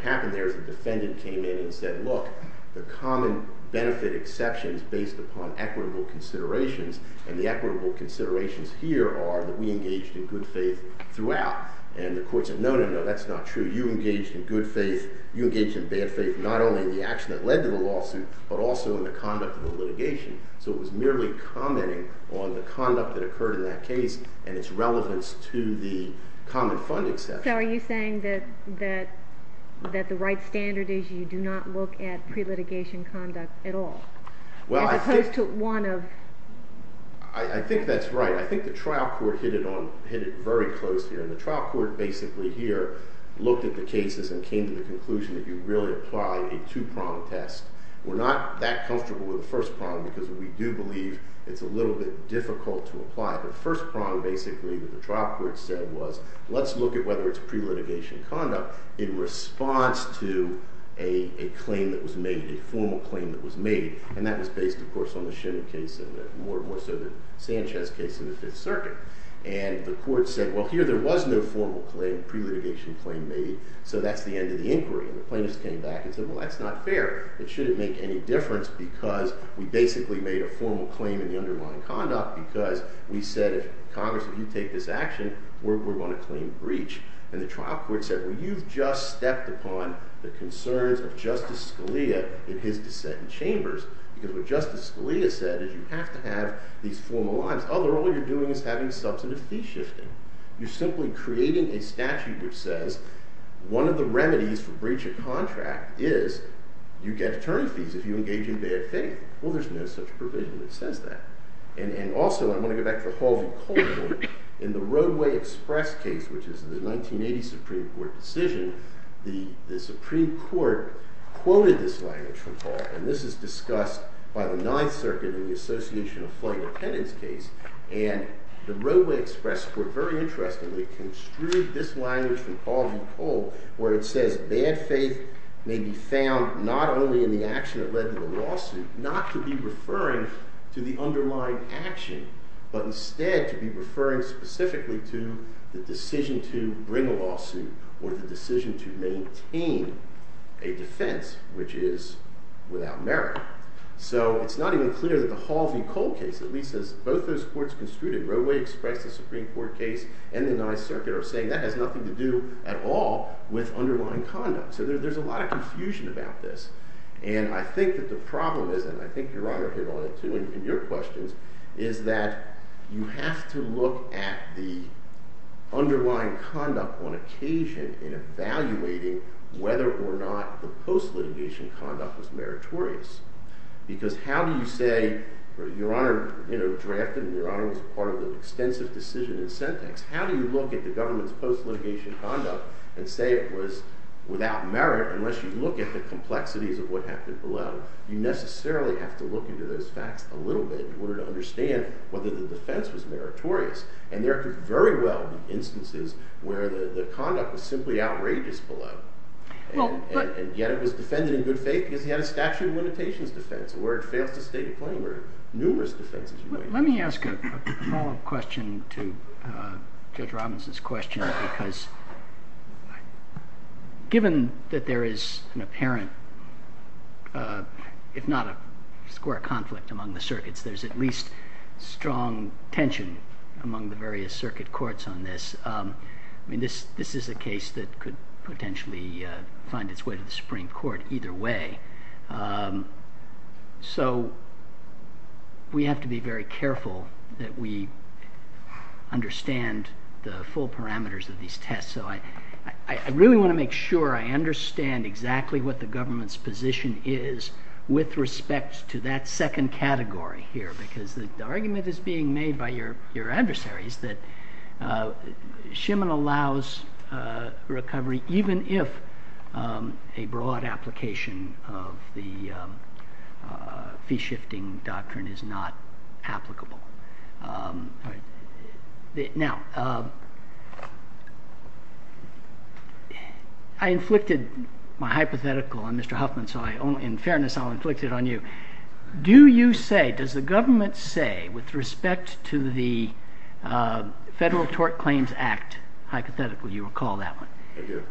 happened there is the defendant came in and said, look, the common benefit exceptions based upon equitable considerations, and the equitable considerations here are that we engaged in good faith throughout. And the court said, no, no, no, that's not true. You engaged in good faith. You engaged in bad faith not only in the action that led to the lawsuit, but also in the conduct of the litigation. So it was merely commenting on the conduct that occurred in that case and its relevance to the common fund exception. So are you saying that the right standard is you do not look at pre-litigation conduct at all? Well, I think... As opposed to one of... I think that's right. I think the trial court hit it very close here, and the trial court basically here looked at the cases and came to the conclusion that you really apply a two-prong test. We're not that comfortable with the first prong because we do believe it's a little bit difficult to apply. The first prong basically that the trial court said was, let's look at whether it's pre-litigation conduct in response to a claim that was made, a formal claim that was made, and that was based, of course, on the Schindler case, and more so the Sanchez case in the Fifth Circuit. And the court said, well, here there was no formal claim, pre-litigation claim made, so that's the end of the inquiry. And the plaintiffs came back and said, well, that's not fair. It shouldn't make any difference because we basically made a formal claim in the underlying conduct because we said, Congress, if you take this action, we're going to claim breach. And the trial court said, well, you've just stepped upon the concerns of Justice Scalia and his dissent in Chambers because what Justice Scalia said is you have to have these formal lines. Otherwise, all you're doing is having substantive fee shifting. You're simply creating a statute which says one of the remedies for breach of contract is you get term fees if you engage in bad pay. Well, there's been a substantive provision that says that. And also, I'm going to go back to a follow-up question. In the Roadway Express case, which is the 1980 Supreme Court decision, the Supreme Court quoted this language from Paul. And this is discussed by the non-circuit in the association of plaintiff's case. And the Roadway Express court, very interestingly, construed this language from Paul v. Paul where it says, bad faith may be found not only in the action that led to the lawsuit, not to be referring to the underlying action, but instead to be referring specifically to the decision to bring a lawsuit or the decision to maintain a defense, which is without merit. So it's not even clear that the Halsey-Cole case, at least as both those courts construed it, Roadway Express, the Supreme Court case, and the non-circuit, are saying that has nothing to do at all with underlying conduct. So there's a lot of confusion about this. And I think that the problem is, and I think your writer hit on it too in your questions, is that you have to look at the underlying conduct on occasion in evaluating whether or not the post-litigation conduct is meritorious. Because how do you say, your honor drafted it, and your honor was part of the extensive decision in sentence. How do you look at the government's post-litigation conduct and say it was without merit unless you look at the complexities of what happened below? You necessarily have to look into those facts a little bit in order to understand whether the defense is meritorious. And there could very well be instances where the conduct was simply outrageous below. And yet it was defended as if it had a statute of limitations defense or where it failed to state a claim or numerous defenses. Let me ask a follow-up question to Judge Robinson's question. Because given that there is an apparent, if not a square conflict, among the circuits, there's at least strong tension among the various circuit courts on this. This is a case that could potentially find its way to the Supreme Court either way. So we have to be very careful that we understand the full parameters of these tests. So I really want to make sure I understand exactly what the government's position is with respect to that second category here. Because the argument that's being made by your adversaries is that Shemin allows recovery even if a broad application of the fee-shifting doctrine is not applicable. Now, I inflicted my hypothetical on Mr. Huffman. So in fairness, I'll inflict it on you. Do you say, does the government say with respect to the Federal Tort Claims Act hypothetical, you recall that one,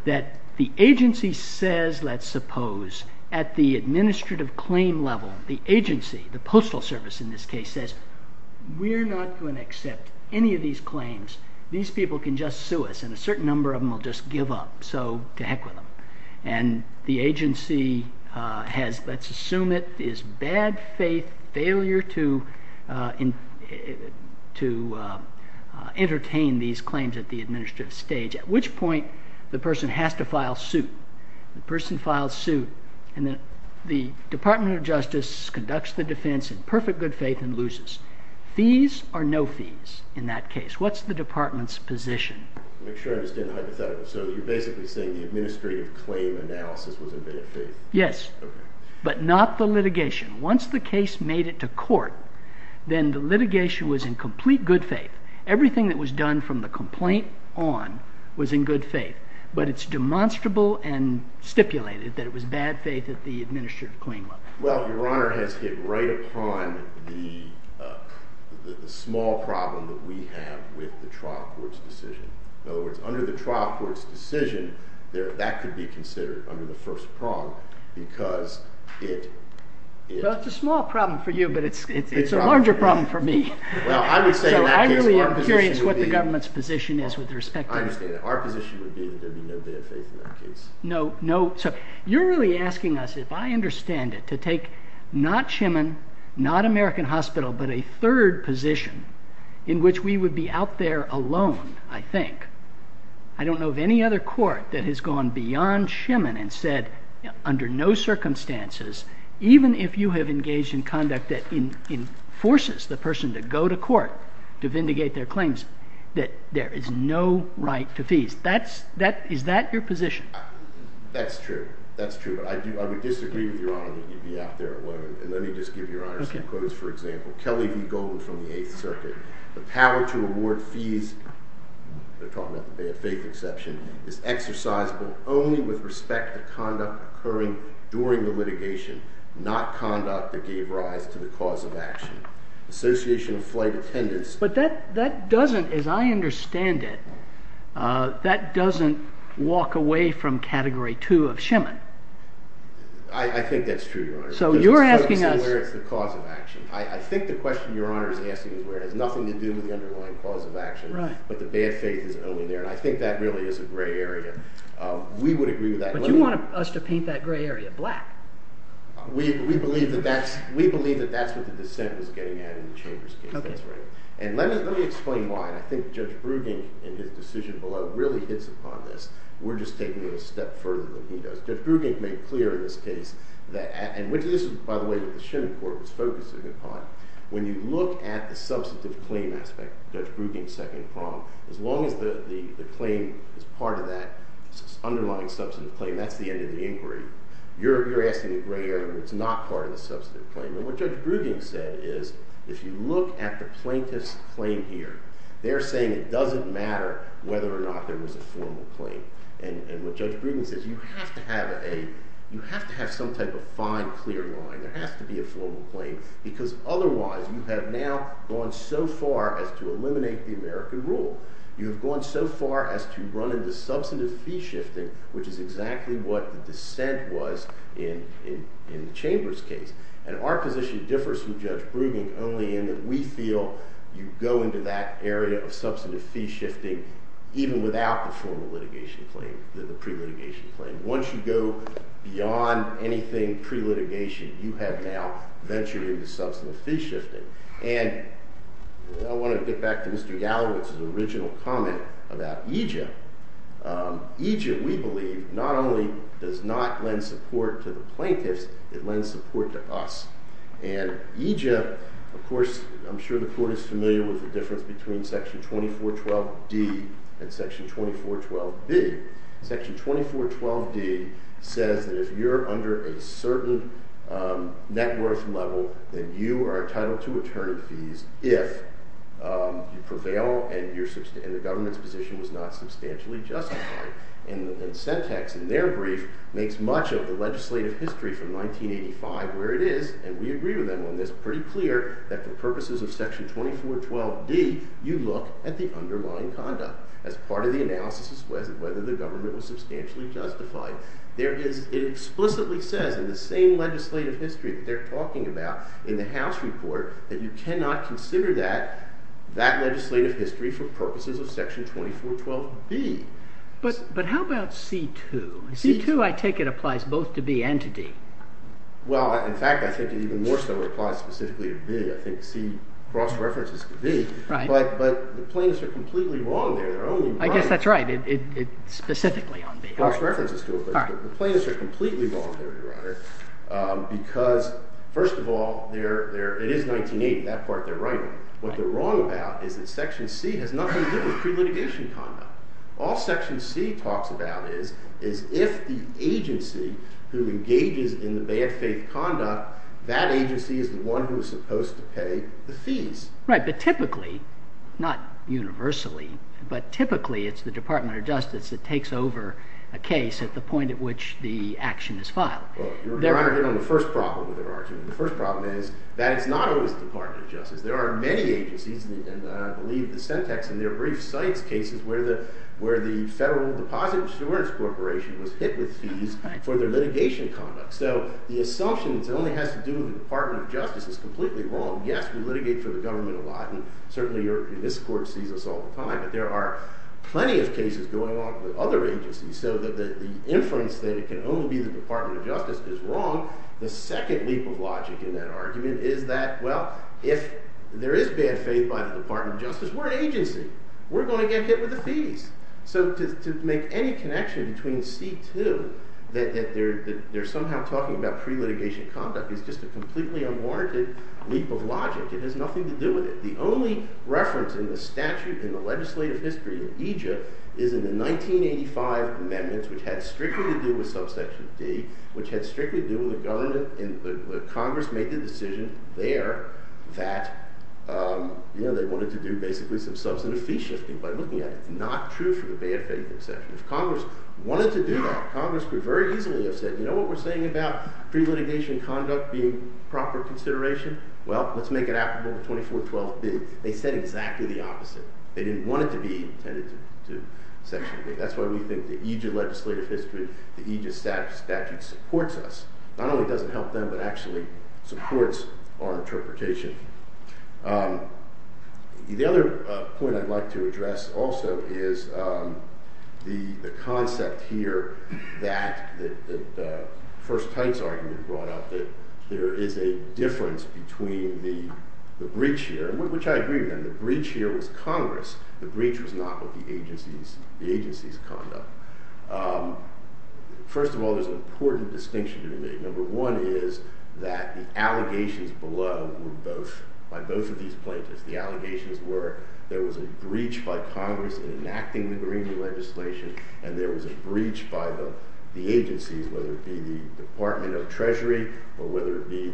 that the agency says, let's suppose, at the administrative claim level, the agency, the postal service in this case, says, we're not going to accept any of these claims. These people can just sue us, and a certain number of them will just give up. So to heck with them. And the agency has, let's assume it, is bad faith failure to entertain these claims at the administrative stage. At which point, the person has to file suit. The person files suit, and the Department of Justice conducts the defense in perfect good faith and loses. Fees are no fees in that case. What's the department's position? Make sure I understand the hypothetical. So you're basically saying the administrative claim analysis was in bad faith? Yes. But not the litigation. Once the case made it to court, then the litigation was in complete good faith. Everything that was done from the complaint on was in good faith. But it's demonstrable and stipulated that it was bad faith at the administrative claim level. Well, Your Honor has hit right upon the small problem that we have with the trial court's decision. In other words, under the trial court's decision, that could be considered under the first problem, because it is. It's a small problem for you, but it's a larger problem for me. I really experience what the government's position is with respect to this. I understand that our position would be that there would be no bad faith in that case. No, no. So you're really asking us, if I understand it, to take not Shemin, not American Hospital, but a third position in which we would be out there alone, I think. I don't know of any other court that has gone beyond Shemin and said under no circumstances, even if you have engaged in conduct that enforces the person to go to court to vindicate their claims, that there is no right to fees. Is that your position? That's true. That's true. I would disagree with Your Honor that you'd be out there alone. And let me just give Your Honor some quotes, for example. Kelly V. Golden from the 8th Circuit. The power to award fees, they're calling it a fake exception, is exercisable only with respect to conduct occurring during the litigation, not conduct that gave rise to the cause of action. Association of flight attendants. But that doesn't, as I understand it, that doesn't walk away from Category 2 of Shemin. I think that's true, Your Honor. So you're asking us. The cause of action. I think the question Your Honor is asking is where it has nothing to do with the underlying cause of action, but the bad faith is only there. And I think that really is the gray area. We would agree with that. But you want us to paint that gray area black. We believe that that's what the dissent was getting at in the And let me explain why. I think Judge Brugink, in his decision below, really hits upon this. We're just taking it a step further than he does. Judge Brugink made it clear in this case that, and this is, by the way, what the Shemin Court was focusing upon. When you look at the substantive claim aspect, Judge Brugink's second comment, as long as the claim is part of that underlying substantive claim, that's the end of the inquiry. You're asking a gray area that's not part of the substantive claim. And what Judge Brugink said is, if you look at the plaintiff's claim here, they're saying it doesn't matter whether or not there was a formal claim. And what Judge Brugink says, you have to have a, you have to have some type of fine, clear line. There has to be a formal claim. Because otherwise, you have now gone so far as to eliminate the American rule. You have gone so far as to run into substantive fee shifting, which is exactly what the dissent was in Chambers' case. And our position differs from Judge Brugink's only in that we feel you go into that area of substantive fee shifting even without the formal litigation claim, the pre-litigation claim. Once you go beyond anything pre-litigation, you have now ventured into substantive fee shifting. And I want to get back to Mr. Gallagher's original comment about Egypt. Egypt, we believe, not only does not lend support to the plaintiffs, it lends support to us. And Egypt, of course, I'm sure the court is familiar with the difference between Section 2412D and Section 2412B. Section 2412D says that if you're under a certain net worth level, then you are entitled to maternity fees if you prevail and the government's position is not substantially justified. And the dissent text in their brief makes much of the legislative history from 1985 where it is, and we agree with them on this, pretty clear that for purposes of Section 2412D, you look at the underlying conduct as part of the analysis as to whether the government was substantially justified. It explicitly says in the same legislative history that they're talking about in the House Report that you cannot consider that legislative history for purposes of Section 2412B. But how about C2? C2, I take it, applies both to B and to D. Well, in fact, I think it even more so applies specifically to D. I think C cross-references to D. Right. But the plaintiffs are completely wrong there. I guess that's right. It's specifically on D. Cross-references to D. The plaintiffs are completely wrong there, Your Honor, because, first of all, it is 1980, that part they're running. What they're wrong about is that Section C has nothing to do with All Section C talks about is if the agency who engages in the bad faith conduct, that agency is the one who is supposed to pay the fees. Right. But typically, not universally, but typically it's the Department of Justice that takes over a case at the point at which the action is filed. Your Honor, here's the first problem with that argument. The first problem is that it's not always the Department of Justice. There are many agencies, and I believe the syntax in their brief cite cases where the Federal Deposit Insurance Corporation was hit with fees for their litigation conduct. So the assumption that it only has to do with the Department of Justice is completely wrong. Yes, we litigate for the government a lot, and certainly this court sees this all the time. But there are plenty of cases going on for other agencies so that the inference that it can only be the Department of Justice is wrong. The second leap of logic in that argument is that, well, if there is bad faith by the Department of Justice, what agency? We're going to get hit with the fees. So to make any connection between Steve, too, that they're somehow talking about pre-litigation conduct. It's just a completely unwarranted leap of logic. It has nothing to do with it. The only reference in the statute, in the legislative history of EGIP is in the 1985 amendments, which had strictly to do with substantial fees, which had strictly to do with the government and Congress making a decision there that they wanted to do basically themselves an official fee by looking at it. Not true for the bad faith exceptions. Congress wanted to do that. Congress could very easily have said, you know what we're saying about pre-litigation conduct being proper consideration? Well, let's make it applicable to 24-12-2. They said exactly the opposite. They didn't want it to be an exception. That's why we think the EGIP legislative history, the EGIP statute supports us. Not only does it help them, but actually supports our interpretation. The other point I'd like to address also is the concept here that the first case argument brought up, that there is a difference between the breach here, which I agree with. The breach here was Congress. The breach was not what the agency's conduct. Number one is that the allegations below were both, by both of these plaintiffs, the allegations were there was a breach by Congress in enacting the Green New Legislation, and there was a breach by the agencies, whether it be the Department of Treasury or whether it be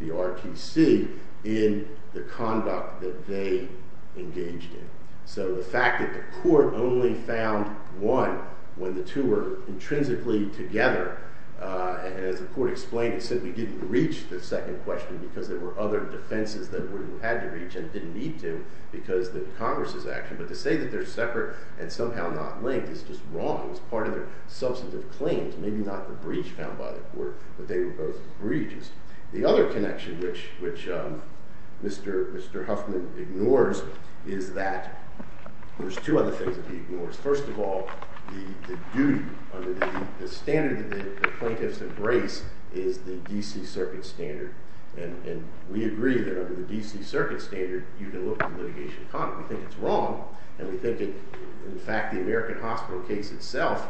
the RTC, in the conduct that they engaged in. So the fact that the court only found one when the two were The court explained, it said we didn't reach the second question because there were other defenses that we had to reach and didn't need them because the Congress is acting. But to say that they're separate and somehow not linked is just wrong. It's part of the substantive claims. Maybe not the breach found by the court, but they were both breaches. The other connection which Mr. Huffman ignores is that there's two other things that he ignores. First of all, the standard that the plaintiffs embrace is the D.C. Circuit standard, and we agree that under the D.C. Circuit standard, you can look at litigation conduct. We think it's wrong, and we think that the fact that the American Hospital case itself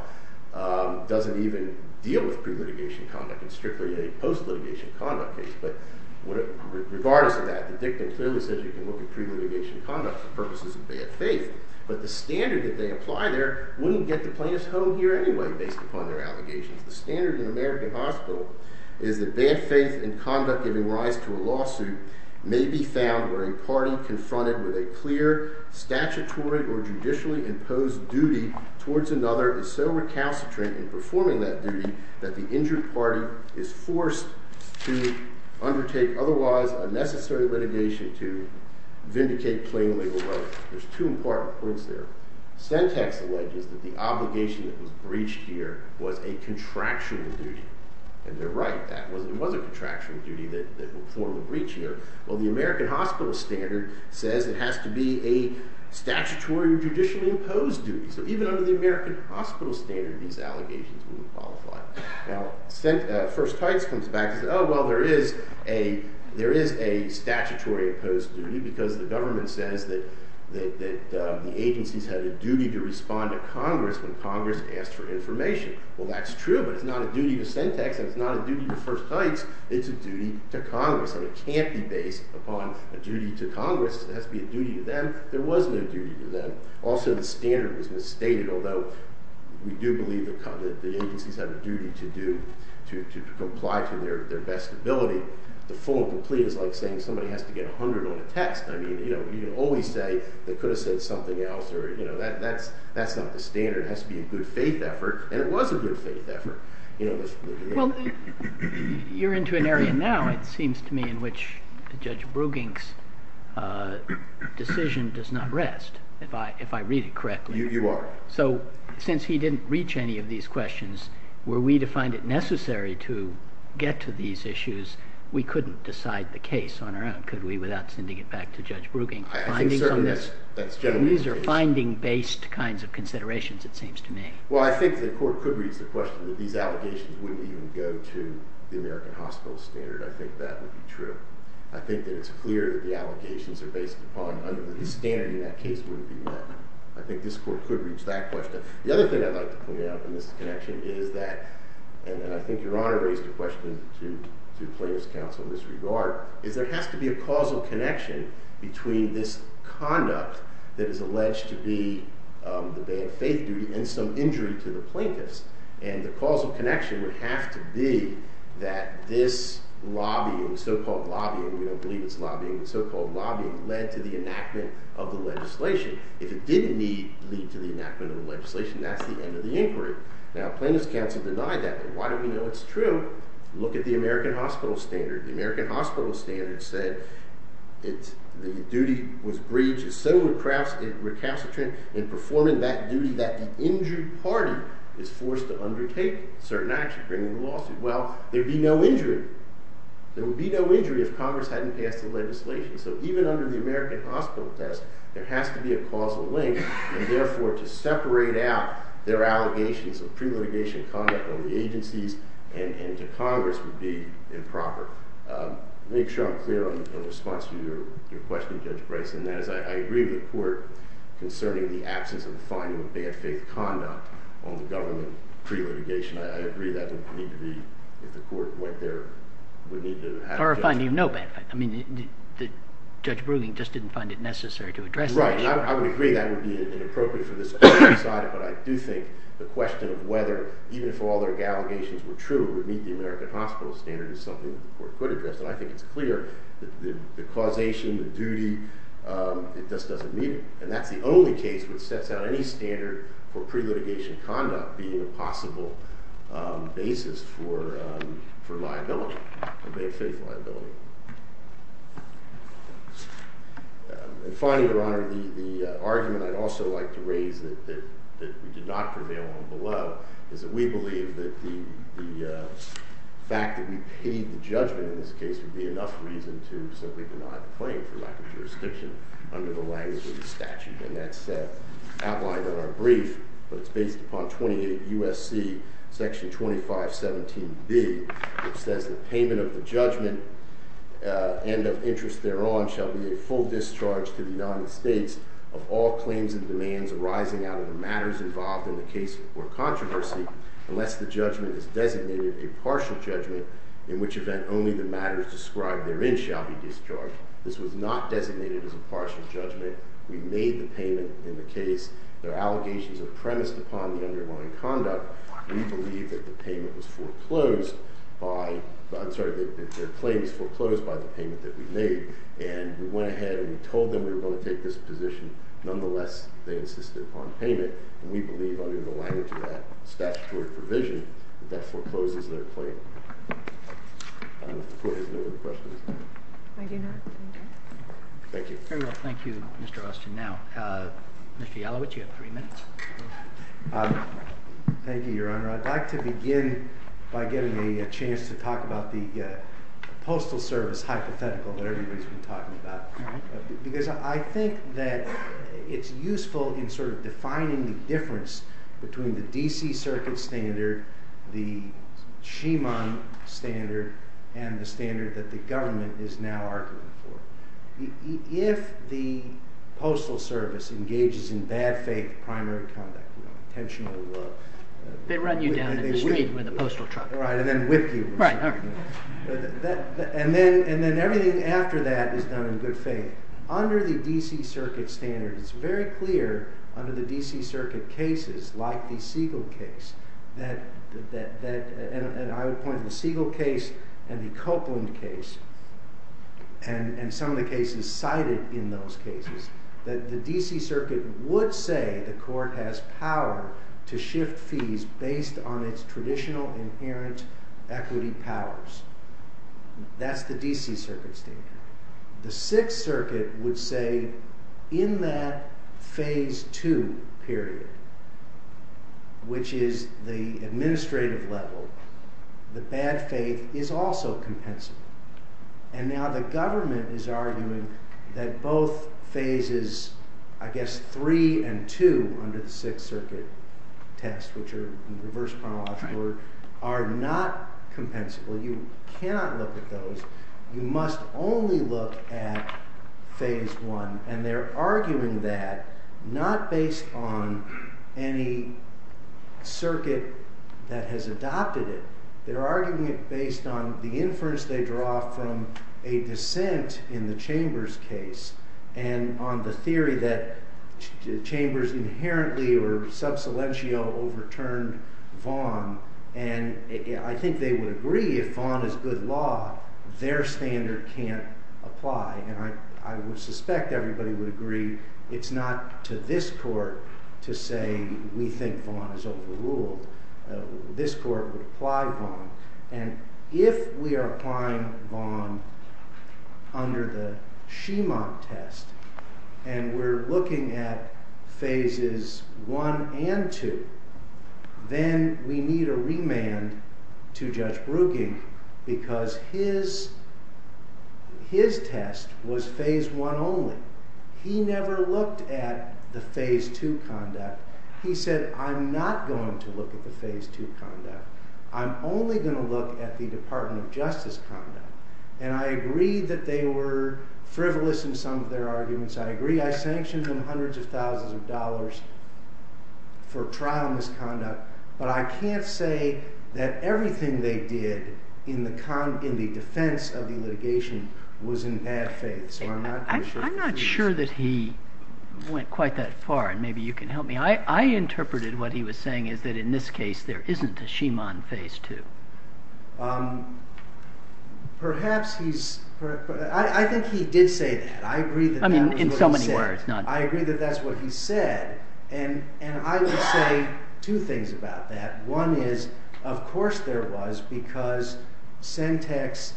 doesn't even deal with pre-mitigation conduct and strictly any post-mitigation conduct. But regardless of that, the victim's service says you can look at pre-mitigation conduct for purposes of bad faith, but the standard that they apply there wouldn't get the plaintiffs home here anyway based upon their allegations. The standard in the American Hospital is that bad faith in conduct giving rise to a lawsuit may be found where a party confronted with a clear statutory or judicially imposed duty towards another is so recalcitrant in performing that duty that the injured party is forced to undertake otherwise unnecessary litigation to vindicate plain labor rights. There's two important points there. Sentence alleges that the obligation that was breached here was a contractual duty. And they're right. That was another contractual duty that was formally breached here. Well, the American Hospital standard says it has to be a statutory or judicially imposed duty. So even under the American Hospital standard, these allegations wouldn't qualify. Now, First Type comes back and says, oh, well, there is a statutory or judicially imposed duty because the government says that the agencies have a duty to respond to Congress when Congress asks for information. Well, that's true, but it's not a duty to send text. It's not a duty to First Types. It's a duty to Congress. And it can't be based upon a duty to Congress. It has to be a duty to them. There wasn't a duty to them. Also, the standard was misstated, although we do believe the agencies have a duty to comply to their best ability. The full and complete is like saying somebody has to get 100 on a text. You can always say they could have said something else. That's not the standard. It has to be a good faith effort. And it was a good faith effort. Well, you're into an area now, it seems to me, in which Judge Brugink's decision does not rest, if I read it correctly. You are. We couldn't decide the case on our own, could we, without sending it back to Judge Brugink. These are finding-based kinds of considerations, it seems to me. Well, I think the court could reach the question that these allegations wouldn't even go to the American Hospital standard. I think that would be true. I think that it's clear that the allegations are based upon under the standard that that case would be met. I think this court could reach that question. The other thing I'd like to point out in this connection is that, and I think Your Honor raised the question to your plaintiff's counsel in this regard, is there has to be a causal connection between this conduct that is alleged to be the day of faith duty and some injury to the plaintiff. And the causal connection would have to be that this lobbying, so-called lobbying, we don't believe it's lobbying, so-called lobbying led to the enactment of the legislation. If it didn't lead to the enactment of the legislation, that's the end of the inquiry. Now, plaintiff's counsel denied that. Why do we know it's true? Look at the American Hospital standard. The American Hospital standard said the duty was breached, so the craftsmen were castigated in performing that duty that the injured party is forced to undertake certain actions during the lawsuit. Well, there would be no injury. There would be no injury if Congress hadn't passed the legislation. So even under the American Hospital test, there has to be a causal link, and, therefore, to separate out their allegations of pre-litigation conduct on the agencies and to Congress would be improper. To make something clear on the response to your question, Judge Bryson, that is I agree with the court concerning the absence of finding that they had faked conduct on the government pre-litigation. I agree that doesn't need to be, if the court went there, would need to have that. Or finding no background. I mean, Judge Brugge just didn't find it necessary to address that. He's right, and I would agree that it would be inappropriate for this to be decided, but I do think the question of whether, even if all their allegations were true, it would meet the American Hospital standard is something the court could address. But I think it's clear that the causation, the duty, it just doesn't meet it. And that's the only case which sets out any standard for pre-litigation conduct being a possible basis for liability, for fake fake liability. And finally, Your Honor, the argument I'd also like to raise that we did not prevail on below is that we believe that the fact that we paid the judgment in this case would be enough reason to certainly come out of the plane for lack of jurisdiction under the language of the statute in that step. Outlined in our brief, but it's based upon 28 U.S.C. Section 2517B, it says the payment of the judgment, and of interest thereon, shall be a full discharge to the United States of all claims and demands arising out of the matters involved in the case before controversy, unless the judgment is designated a partial judgment, in which event only the matters described therein shall be discharged. This was not designated as a partial judgment. We made the payment in the case. Their allegations are premised upon the underlying conduct. We believe that the payment was foreclosed by, I'm sorry, that their claim was foreclosed by the payment that we made, and we went ahead and we told them we were going to take this position. Nonetheless, they insisted upon paying it. We believe, under the language of that statutory provision, that that forecloses their claim. Thank you. Very well, thank you, Mr. Austin. Now, Mr. Yalowitz, you have three minutes. Thank you, Your Honor. I'd like to begin by getting a chance to talk about the postal service hypothetical that everybody's been talking about. Because I think that it's useful in sort of defining the difference between the D.C. Circuit standard, the Shimon standard, and the standard that the government is now arguing for. If the postal service engages in bad faith primary conduct, you know, potentially what? They run you down in the street with a postal truck. Right, and then whip you. Right. And then everything after that is done in good faith. Under the D.C. Circuit standard, it's very clear under the D.C. Circuit cases, like the Siegel case, and I would point to the Siegel case and the Copeland case, and some of the cases cited in those cases, that the D.C. Circuit would say the court has power to shift fees based on its traditional inherent equity powers. That's the D.C. Circuit standard. The Sixth Circuit would say in that phase two period, which is the administrative level, that bad faith is also compensable. And now the government is arguing that both phases, I guess, three and two under the Sixth Circuit test, which are the diverse penalized court, are not compensable. You cannot look at those. You must only look at phase one. And they're arguing that not based on any circuit that has adopted it. They're arguing it based on the inference they draw from a dissent in the Chambers case and on the theory that Chambers inherently or subsilential overturned Vaughan. And I think they would agree if Vaughan is good law, their standard can't apply. And I would suspect everybody would agree it's not to this court to say we think Vaughan is overruled. This court would apply Vaughan. And if we are applying Vaughan under the Schiemann test, and we're looking at phases one and two, then we need a remand to Judge Ruggi because his test was phase one only. He never looked at the phase two conduct. He said, I'm not going to look at the phase two conduct. I'm only going to look at the Department of Justice conduct. And I agree that they were frivolous in some of their arguments. I agree I sanctioned them hundreds of thousands of dollars for promised conduct, but I can't say that everything they did in the defense of the litigation was in bad faith. I'm not sure that he went quite that far, and maybe you can help me. I interpreted what he was saying is that in this case there isn't a Schiemann phase two. I think he did say that. I agree that that's what he said. And I would say two things about that. One is, of course there was because Sentex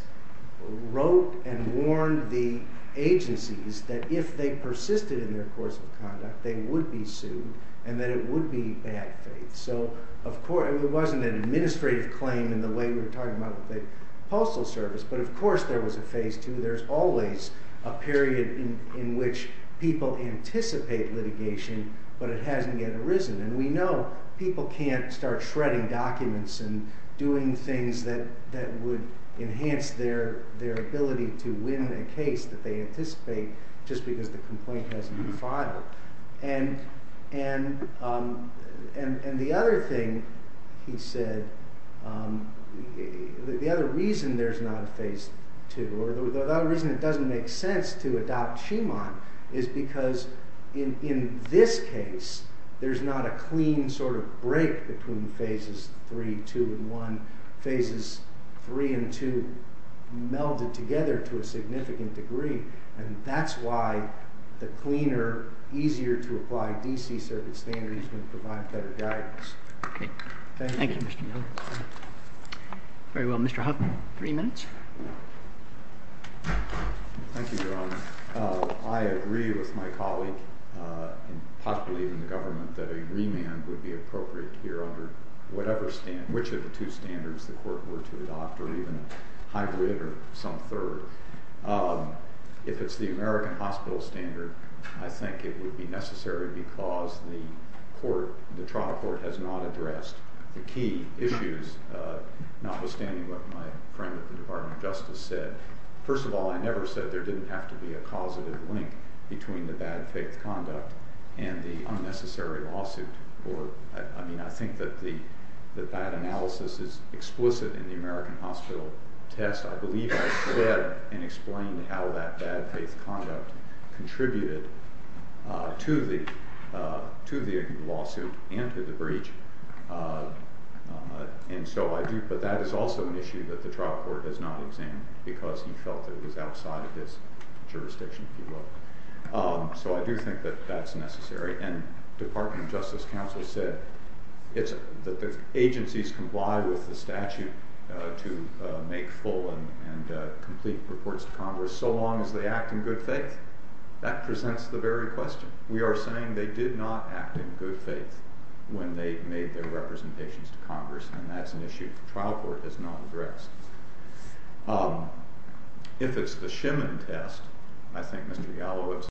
wrote and warned the agencies that if they persisted in their course of conduct, they would be sued and that it would be bad faith. It wasn't an administrative claim in the way we were talking about the Postal Service, but of course there was a phase two. There's always a period in which people anticipate litigation, but it hasn't yet arisen. And we know people can't start shredding documents and doing things that would enhance their ability to win a case that they anticipate just because the complaint hasn't been filed. And the other thing he said, the other reason there's not a phase two, or the other reason it doesn't make sense to adopt Schiemann, is because in this case there's not a clean sort of break between phases three, two, and one. Phases three and two melded together to a significant degree, and that's why the cleaner, easier to apply D.C. Circuit standards would provide better guidance. Thank you. Thank you, Mr. Miller. Very well, Mr. Hoffman, three minutes. Thank you, Your Honor. I agree with my colleague, and possibly even the government, that a remand would be appropriate here under whatever standard, which of the two standards the court were to adopt, or even I would or some third. If it's the American Hospital standard, I think it would be necessary because the court, the trial court, has not addressed the key issues, notwithstanding what my friend at the Department of Justice said. First of all, I never said there didn't have to be a causative link between the bad fake conduct and the unnecessary lawsuit. I think that the bad analysis is explicit in the American Hospital text. I believe I said and explained how that bad fake conduct contributed to the lawsuit and to the breach. But that is also an issue that the trial court does not examine because he felt that it was outside of his jurisdiction. So I do think that that's necessary. And the Department of Justice counsel said that the agencies comply with the statute to make full and complete reports to Congress so long as they act in good faith. That presents the very question. We are saying they did not act in good faith when they made their representations to Congress, and that's an issue the trial court has not addressed. If it's the Shemin test, I think Mr. Yalowitz...